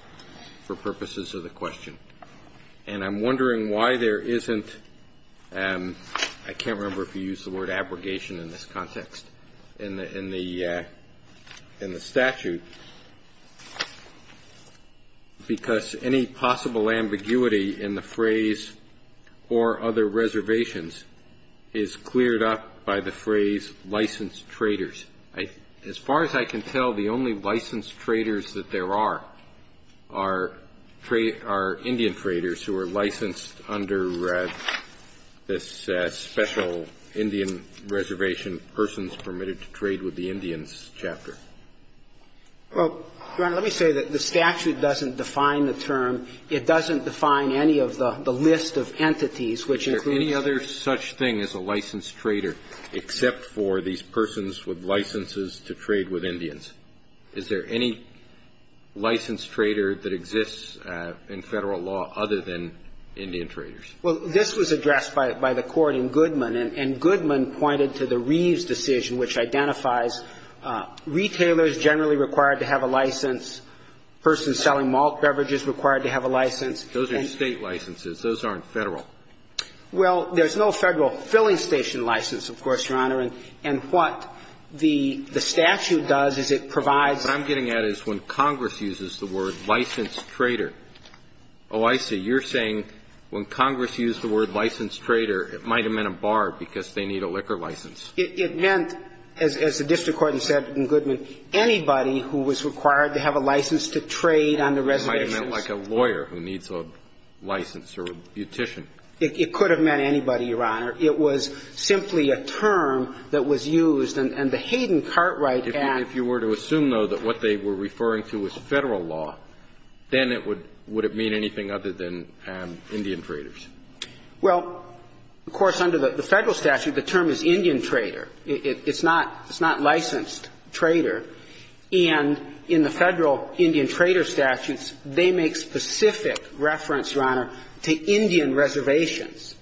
for purposes of the question, and I'm wondering why there isn't, I can't remember if you used the word abrogation in this context, in the statute, because any possible ambiguity in the phrase or other reservations is cleared up by the phrase licensed traders. As far as I can tell, the only licensed traders that there are are Indian traders who are licensed under this special Indian reservation, persons permitted to trade with the Indians chapter. Well, Your Honor, let me say that the statute doesn't define the term. It doesn't define any of the list of entities, which includes- Is there any other such thing as a licensed trader, except for these persons with licenses to trade with Indians? Is there any licensed trader that exists in federal law other than Indian traders? Well, this was addressed by the court in Goodman, and Goodman pointed to the Reeves decision, which identifies retailers generally required to have a license, persons selling malt beverages required to have a license. Those are state licenses. Those aren't federal. Well, there's no federal filling station license, of course, Your Honor, and what the statute does is it provides- What I'm getting at is when Congress uses the word licensed trader. Oh, I see. You're saying when Congress used the word licensed trader, it might have meant a bar because they need a liquor license. It meant, as the district court in Goodman, anybody who was required to have a license to trade on the reservation- It might have meant like a lawyer who needs a license or a beautician. It could have meant anybody, Your Honor. It was simply a term that was used, and the Hayden Cartwright Act- If you were to assume, though, that what they were referring to was federal law, then would it mean anything other than Indian traders? Well, of course, under the federal statute, the term is Indian trader. It's not licensed trader. And in the federal Indian trader statutes, they make specific reference, Your Honor, to Indian reservations.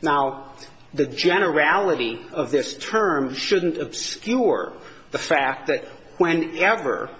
Now, the generality of this term shouldn't obscure the fact that whenever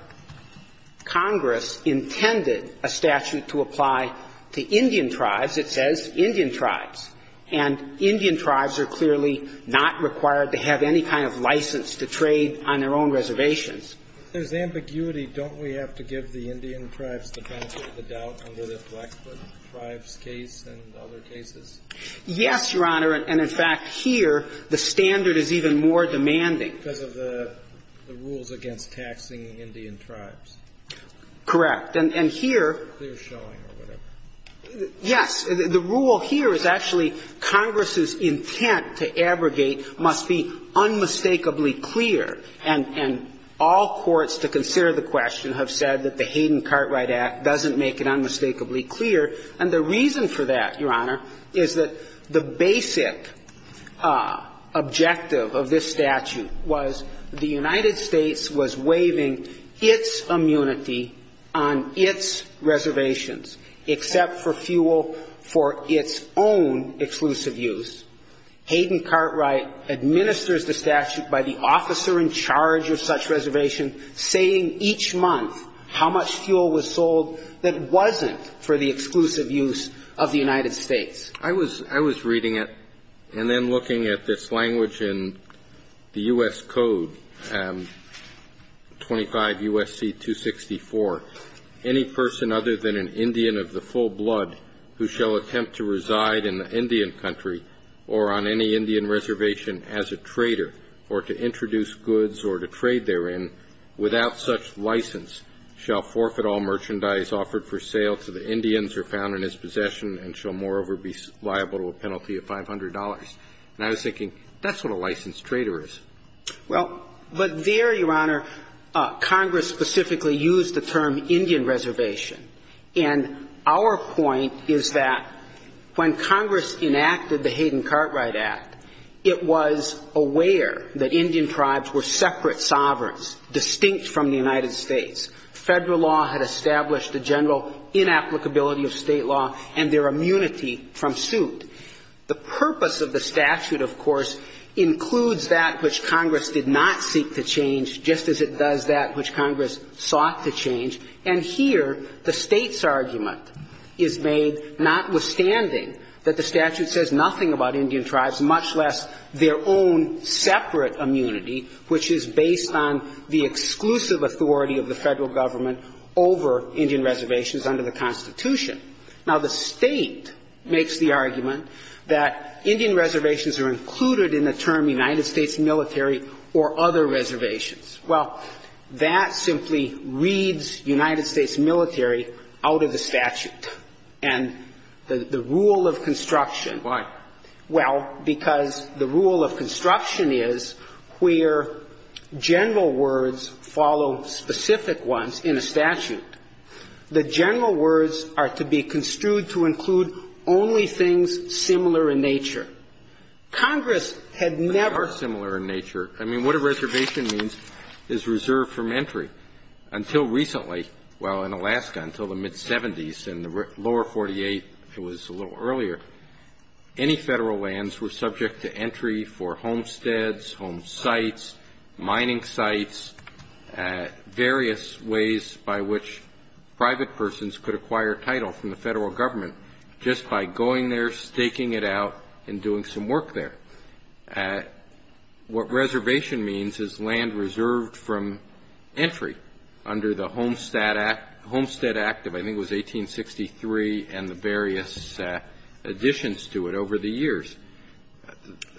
Congress intended a statute to apply to Indian tribes, it says Indian tribes. And Indian tribes are clearly not required to have any kind of license to trade on their own reservations. There's ambiguity. Don't we have to give the Indian tribes the benefit of the doubt under the Blackfoot tribes case and other cases? Yes, Your Honor. And in fact, here, the standard is even more demanding. Because of the rules against taxing Indian tribes. Correct. And here- They're showing a little. Yes. The rule here is actually Congress's intent to abrogate must be unmistakably clear. And all courts to consider the question have said that the Hayden Cartwright Act doesn't make it unmistakably clear. And the reason for that, Your Honor, is that the basic objective of this statute was the United States was waiving its immunity on its reservations. Except for fuel for its own exclusive use. Hayden Cartwright administers the statute by the officer in charge of such reservations, saying each month how much fuel was sold that wasn't for the exclusive use of the United States. I was reading it and then looking at this language in the U.S. Code, 25 U.S.C. 264. Any person other than an Indian of the full blood who shall attempt to reside in the Indian country or on any Indian reservation as a trader, or to introduce goods or to trade therein, without such license, shall forfeit all merchandise offered for sale to the Indians or found in his possession and shall moreover be liable to a penalty of $500. And I was thinking, that's what a licensed trader is. Well, but there, Your Honor, Congress specifically used the term Indian reservation. And our point is that when Congress enacted the Hayden Cartwright Act, it was aware that Indian tribes were separate sovereigns, distinct from the United States. Federal law had established the general inapplicability of state law and their immunity from suit. The purpose of the statute, of course, includes that which Congress did not seek to change, just as it does that which Congress sought to change. And here, the state's argument is made, notwithstanding that the statute says nothing about Indian tribes, much less their own separate immunity, which is based on the exclusive authority of the federal government over Indian reservations under the Constitution. Now, the state makes the argument that Indian reservations are included in the term United States military or other reservations. Well, that simply reads United States military out of the statute. And the rule of construction- Why? Well, because the rule of construction is where general words follow specific ones in the statute. The general words are to be construed to include only things similar in nature. Congress had never- is reserved from entry. Until recently, well, in Alaska, until the mid-'70s, in the lower 48, it was a little earlier, any federal lands were subject to entry for homesteads, home sites, mining sites, various ways by which private persons could acquire title from the federal government just by going there, staking it out, and doing some work there. What reservation means is land reserved from entry under the Homestead Act of, I think it was 1863, and the various additions to it over the years.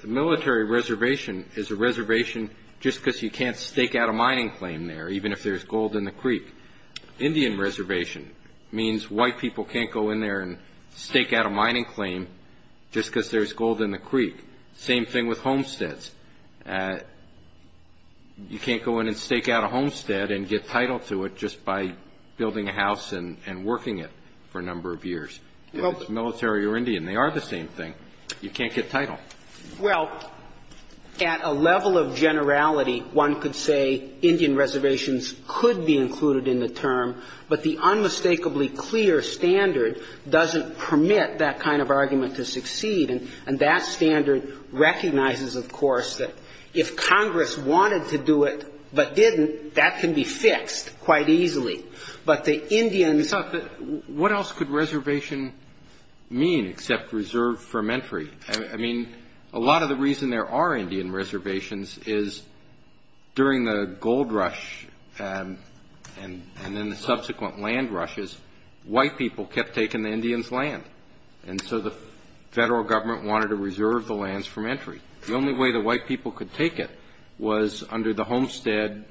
Military reservation is a reservation just because you can't stake out a mining claim there, even if there's gold in the creek. Indian reservation means white people can't go in there and stake out a mining claim just because there's gold in the creek. Same thing with homesteads. You can't go in and stake out a homestead and get title to it just by building a house and working it for a number of years. Whether it's military or Indian, they are the same thing. You can't get title. Well, at a level of generality, one could say Indian reservations could be included in the term, but the unmistakably clear standard doesn't permit that kind of argument to succeed, and that standard recognizes, of course, that if Congress wanted to do it but didn't, that can be fixed quite easily. But the Indian... What else could reservation mean except reserved from entry? I mean, a lot of the reason there are Indian reservations is during the gold rush and then the subsequent land rushes, white people kept taking the Indians' land, and so the federal government wanted to reserve the lands from entry. The only way the white people could take it was under the Homestead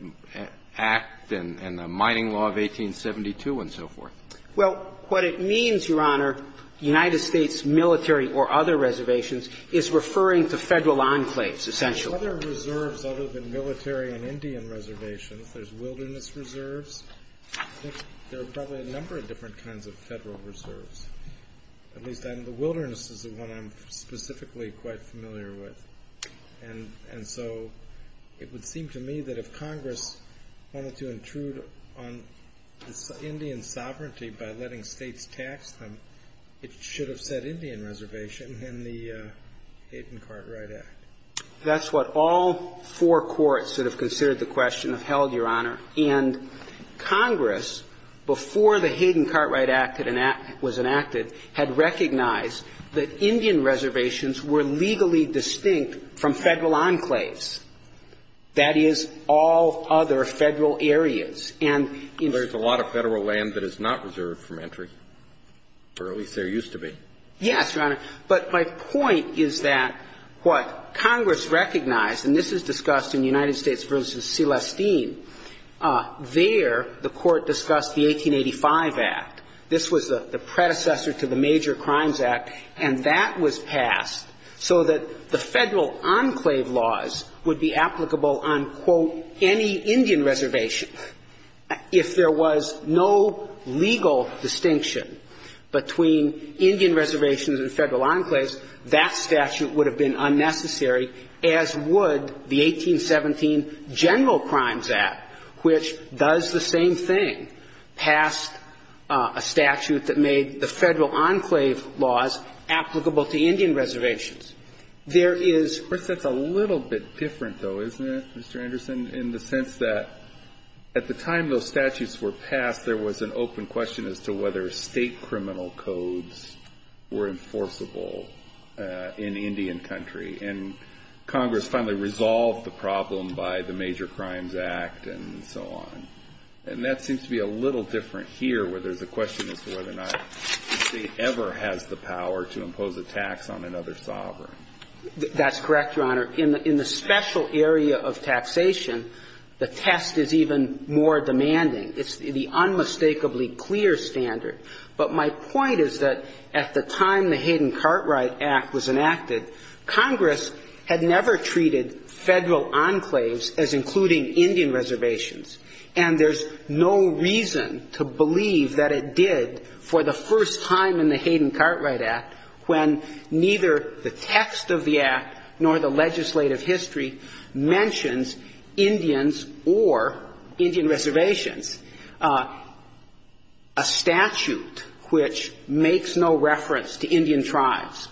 Act and the Mining Law of 1872 and so forth. Well, what it means, Your Honor, United States military or other reservations, is referring to federal enclaves, essentially. Other reserves other than military and Indian reservations, there's wilderness reserves. There are probably a number of different kinds of federal reserves. The wilderness is the one I'm specifically quite familiar with, and so it would seem to me that if Congress wanted to intrude on Indian sovereignty by letting states tax them, it should have said Indian reservation in the Hayden-Cartwright Act. That's what all four courts that have considered the question have held, Your Honor. And Congress, before the Hayden-Cartwright Act was enacted, had recognized that Indian reservations were legally distinct from federal enclaves. That is, all other federal areas. There's a lot of federal land that is not reserved from entry, or at least there used to be. Yes, Your Honor. But my point is that what Congress recognized, and this is discussed in the United States v. Celestine, there the court discussed the 1885 Act. This was the predecessor to the Major Crimes Act, and that was passed so that the federal enclave laws would be applicable on, quote, any Indian reservation. If there was no legal distinction between Indian reservations and federal enclaves, that statute would have been unnecessary, as would the 1817 General Crimes Act, which does the same thing, pass a statute that made the federal enclave laws applicable to Indian reservations. That's a little bit different, though, isn't it, Mr. Anderson, in the sense that at the time those statutes were passed, there was an open question as to whether state criminal codes were enforceable in Indian country. And Congress finally resolved the problem by the Major Crimes Act and so on. And that seems to be a little different here, where there's a question as to whether or not the state ever has the power to impose a tax on another sovereign. That's correct, Your Honor. In the special area of taxation, the test is even more demanding. It's the unmistakably clear standard. But my point is that at the time the Hayden-Cartwright Act was enacted, Congress had never treated federal enclaves as including Indian reservations. And there's no reason to believe that it did for the first time in the Hayden-Cartwright Act when neither the text of the Act nor the legislative history mentioned Indians or Indian reservations. A statute which makes no reference to Indian tribes,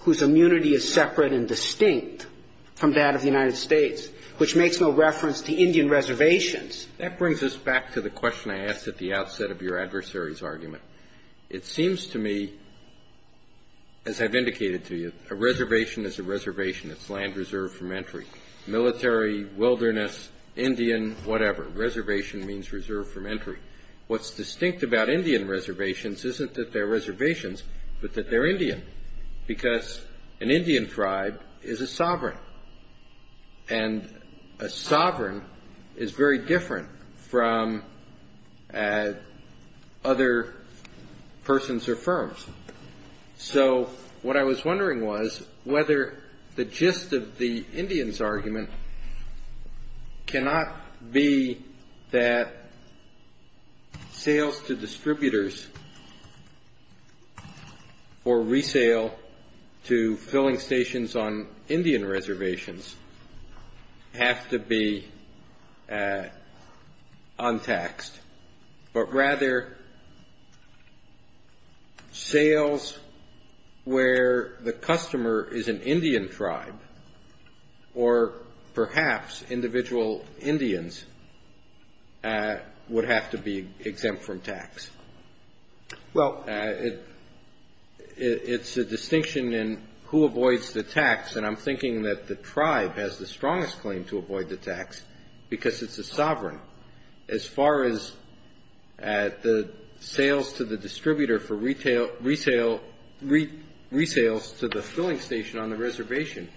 whose immunity is separate and distinct from that of the United States, which makes no reference to Indian reservations. That brings us back to the question I asked at the outset of your adversary's argument. It seems to me, as I've indicated to you, a reservation is a reservation. It's land reserved from entry. Military, wilderness, Indian, whatever. Reservation means reserved from entry. What's distinct about Indian reservations isn't that they're reservations, but that they're Indian. Because an Indian tribe is a sovereign. And a sovereign is very different from other persons or firms. So, what I was wondering was whether the gist of the Indian's argument cannot be that sales to distributors or resale to filling stations on Indian reservations have to be untaxed, but rather sales where the customer is an Indian tribe or perhaps individual Indians would have to be exempt from tax. Well, it's a distinction in who avoids the tax. And I'm thinking that the tribe has the strongest claim to avoid the tax because it's a sovereign. As far as the sales to the distributor for retails to the filling station on the reservation,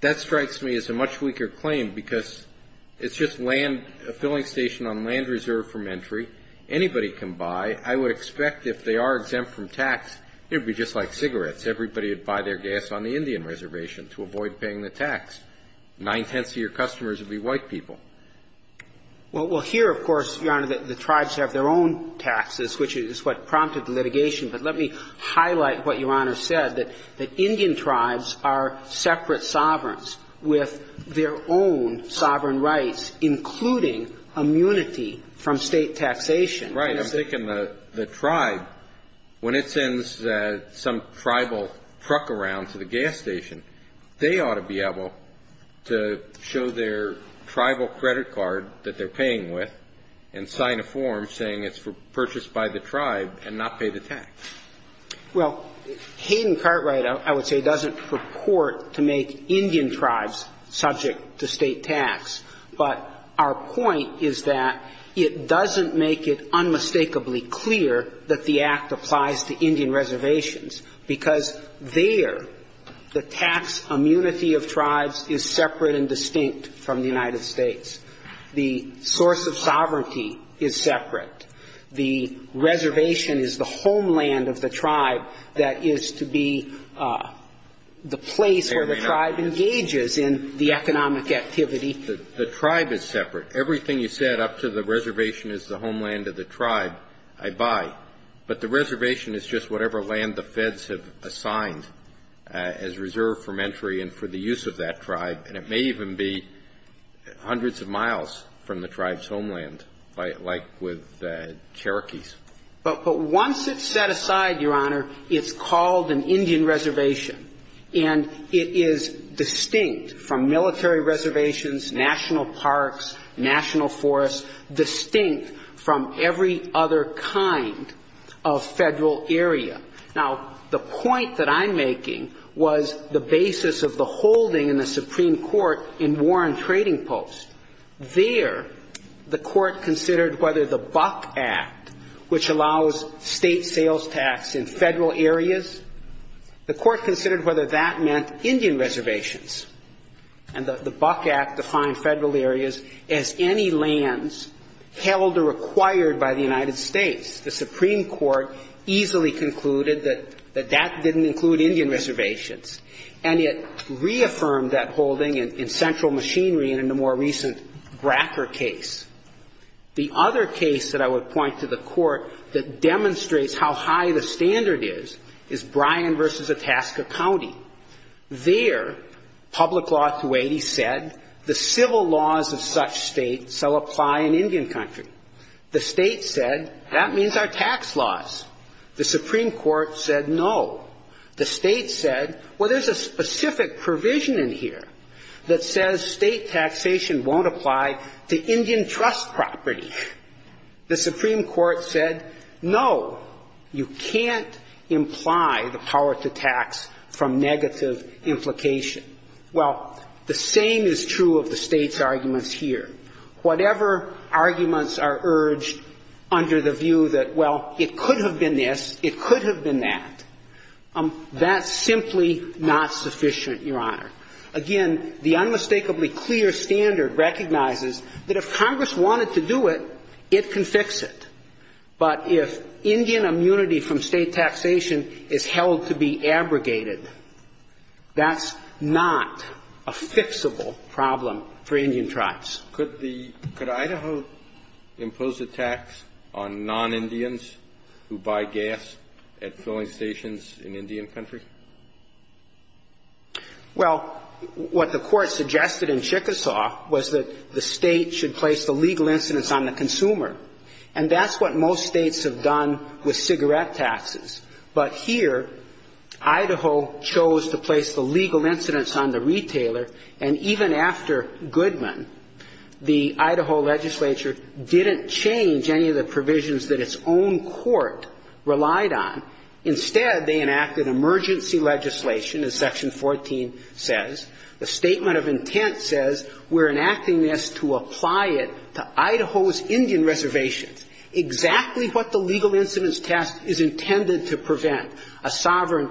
that strikes me as a much weaker claim because it's just land, a filling station on land reserved from entry. Anybody can buy. I would expect if they are exempt from tax, it would be just like cigarettes. Everybody would buy their gas on the Indian reservation to avoid paying the tax. Nine-tenths of your customers would be white people. Well, here, of course, Your Honor, the tribes have their own taxes, which is what prompted the litigation. But let me highlight what Your Honor said, that Indian tribes are separate sovereigns with their own sovereign rights, including immunity from state taxation. Right, I'm thinking the tribe, when it sends some tribal truck around to the gas station, they ought to be able to show their tribal credit card that they're paying with and sign a form saying it's purchased by the tribe and not pay the tax. Well, Hayden-Curtright, I would say, doesn't purport to make Indian tribes subject to state tax. But our point is that it doesn't make it unmistakably clear that the act applies to Indian reservations because there, the tax immunity of tribes is separate and distinct from the United States. The source of sovereignty is separate. The reservation is the homeland of the tribe that is to be the place where the tribe engages in the economic activity. The tribe is separate. Everything you said up to the reservation is the homeland of the tribe, I buy. But the reservation is just whatever land the feds have assigned as reserve for entry and for the use of that tribe. And it may even be hundreds of miles from the tribe's homeland, like with the Cherokees. But once it's set aside, Your Honor, it's called an Indian reservation. And it is distinct from military reservations, national parks, national forests, distinct from every other kind of federal area. Now, the point that I'm making was the basis of the holding in the Supreme Court in Warren Trading Post. There, the court considered whether the Buck Act, which allows state sales tax in federal areas, the court considered whether that meant Indian reservations. And the Buck Act defined federal areas as any lands held or acquired by the United States. The Supreme Court easily concluded that that didn't include Indian reservations. And it reaffirmed that holding in Central Machinery and in the more recent Bracker case. The other case that I would point to the court that demonstrates how high the standard is, is Bryan v. Itasca County. There, public law authority said the civil laws of such states shall apply in Indian country. The state said, that means our tax laws. The Supreme Court said no. The state said, well, there's a specific provision in here that says state taxation won't apply to Indian trust property. The Supreme Court said, no. You can't imply the power to tax from negative implication. Well, the same is true of the state's arguments here. Whatever arguments are urged under the view that, well, it could have been this, it could have been that. That's simply not sufficient, Your Honor. Again, the unmistakably clear standard recognizes that if Congress wanted to do it, it can fix it. But if Indian immunity from state taxation is held to be abrogated, that's not a fixable problem for Indian tribes. Could Idaho impose a tax on non-Indians who buy gas at filling stations in Indian country? Well, what the court suggested in Chickasaw was that the state should place the legal incidence on the consumer. And that's what most states have done with cigarette taxes. But here, Idaho chose to place the legal incidence on the retailer. And even after Goodman, the Idaho legislature didn't change any of the provisions that its own court relied on. Instead, they enacted emergency legislation, as Section 14 says. A statement of intent says, we're enacting this to apply it to Idaho's Indian reservation. Exactly what the legal incidence test is intended to prevent, a sovereign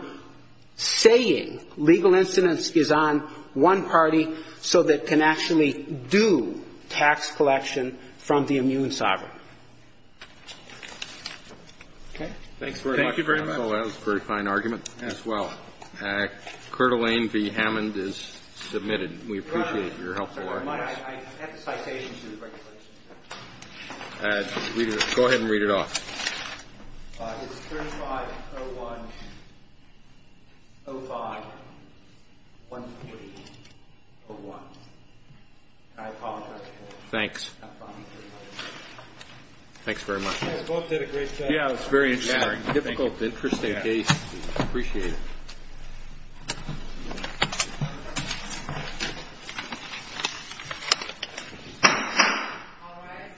saying legal incidence is on one party so that it can actually do tax collection from the immune sovereign. Thank you very much. Well, that was a very fine argument as well. Colonel Wayne V. Hammond is submitted. We appreciate your helpful work. Go ahead and read it off. I apologize for that. Thanks. Thanks very much. You both did a great job. Yeah, it was very interesting. Typical, interesting case. Appreciate it. All right.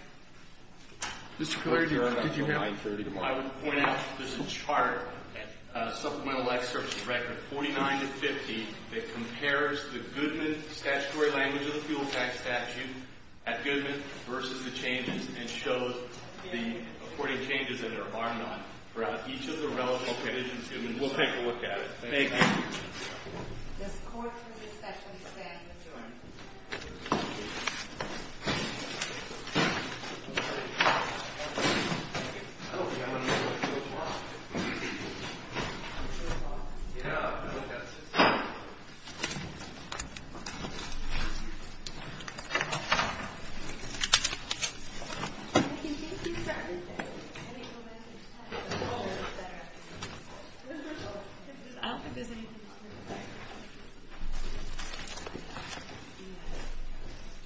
I would point out that this is part of a supplemental excerpt from Record 49 and 50 that compares the Goodman statutory language in the Fuel Tax Statute at Goodman versus the changes and shows the important changes that were barred on each of the relevant provisions. We'll take a look at it. Thank you. Thank you.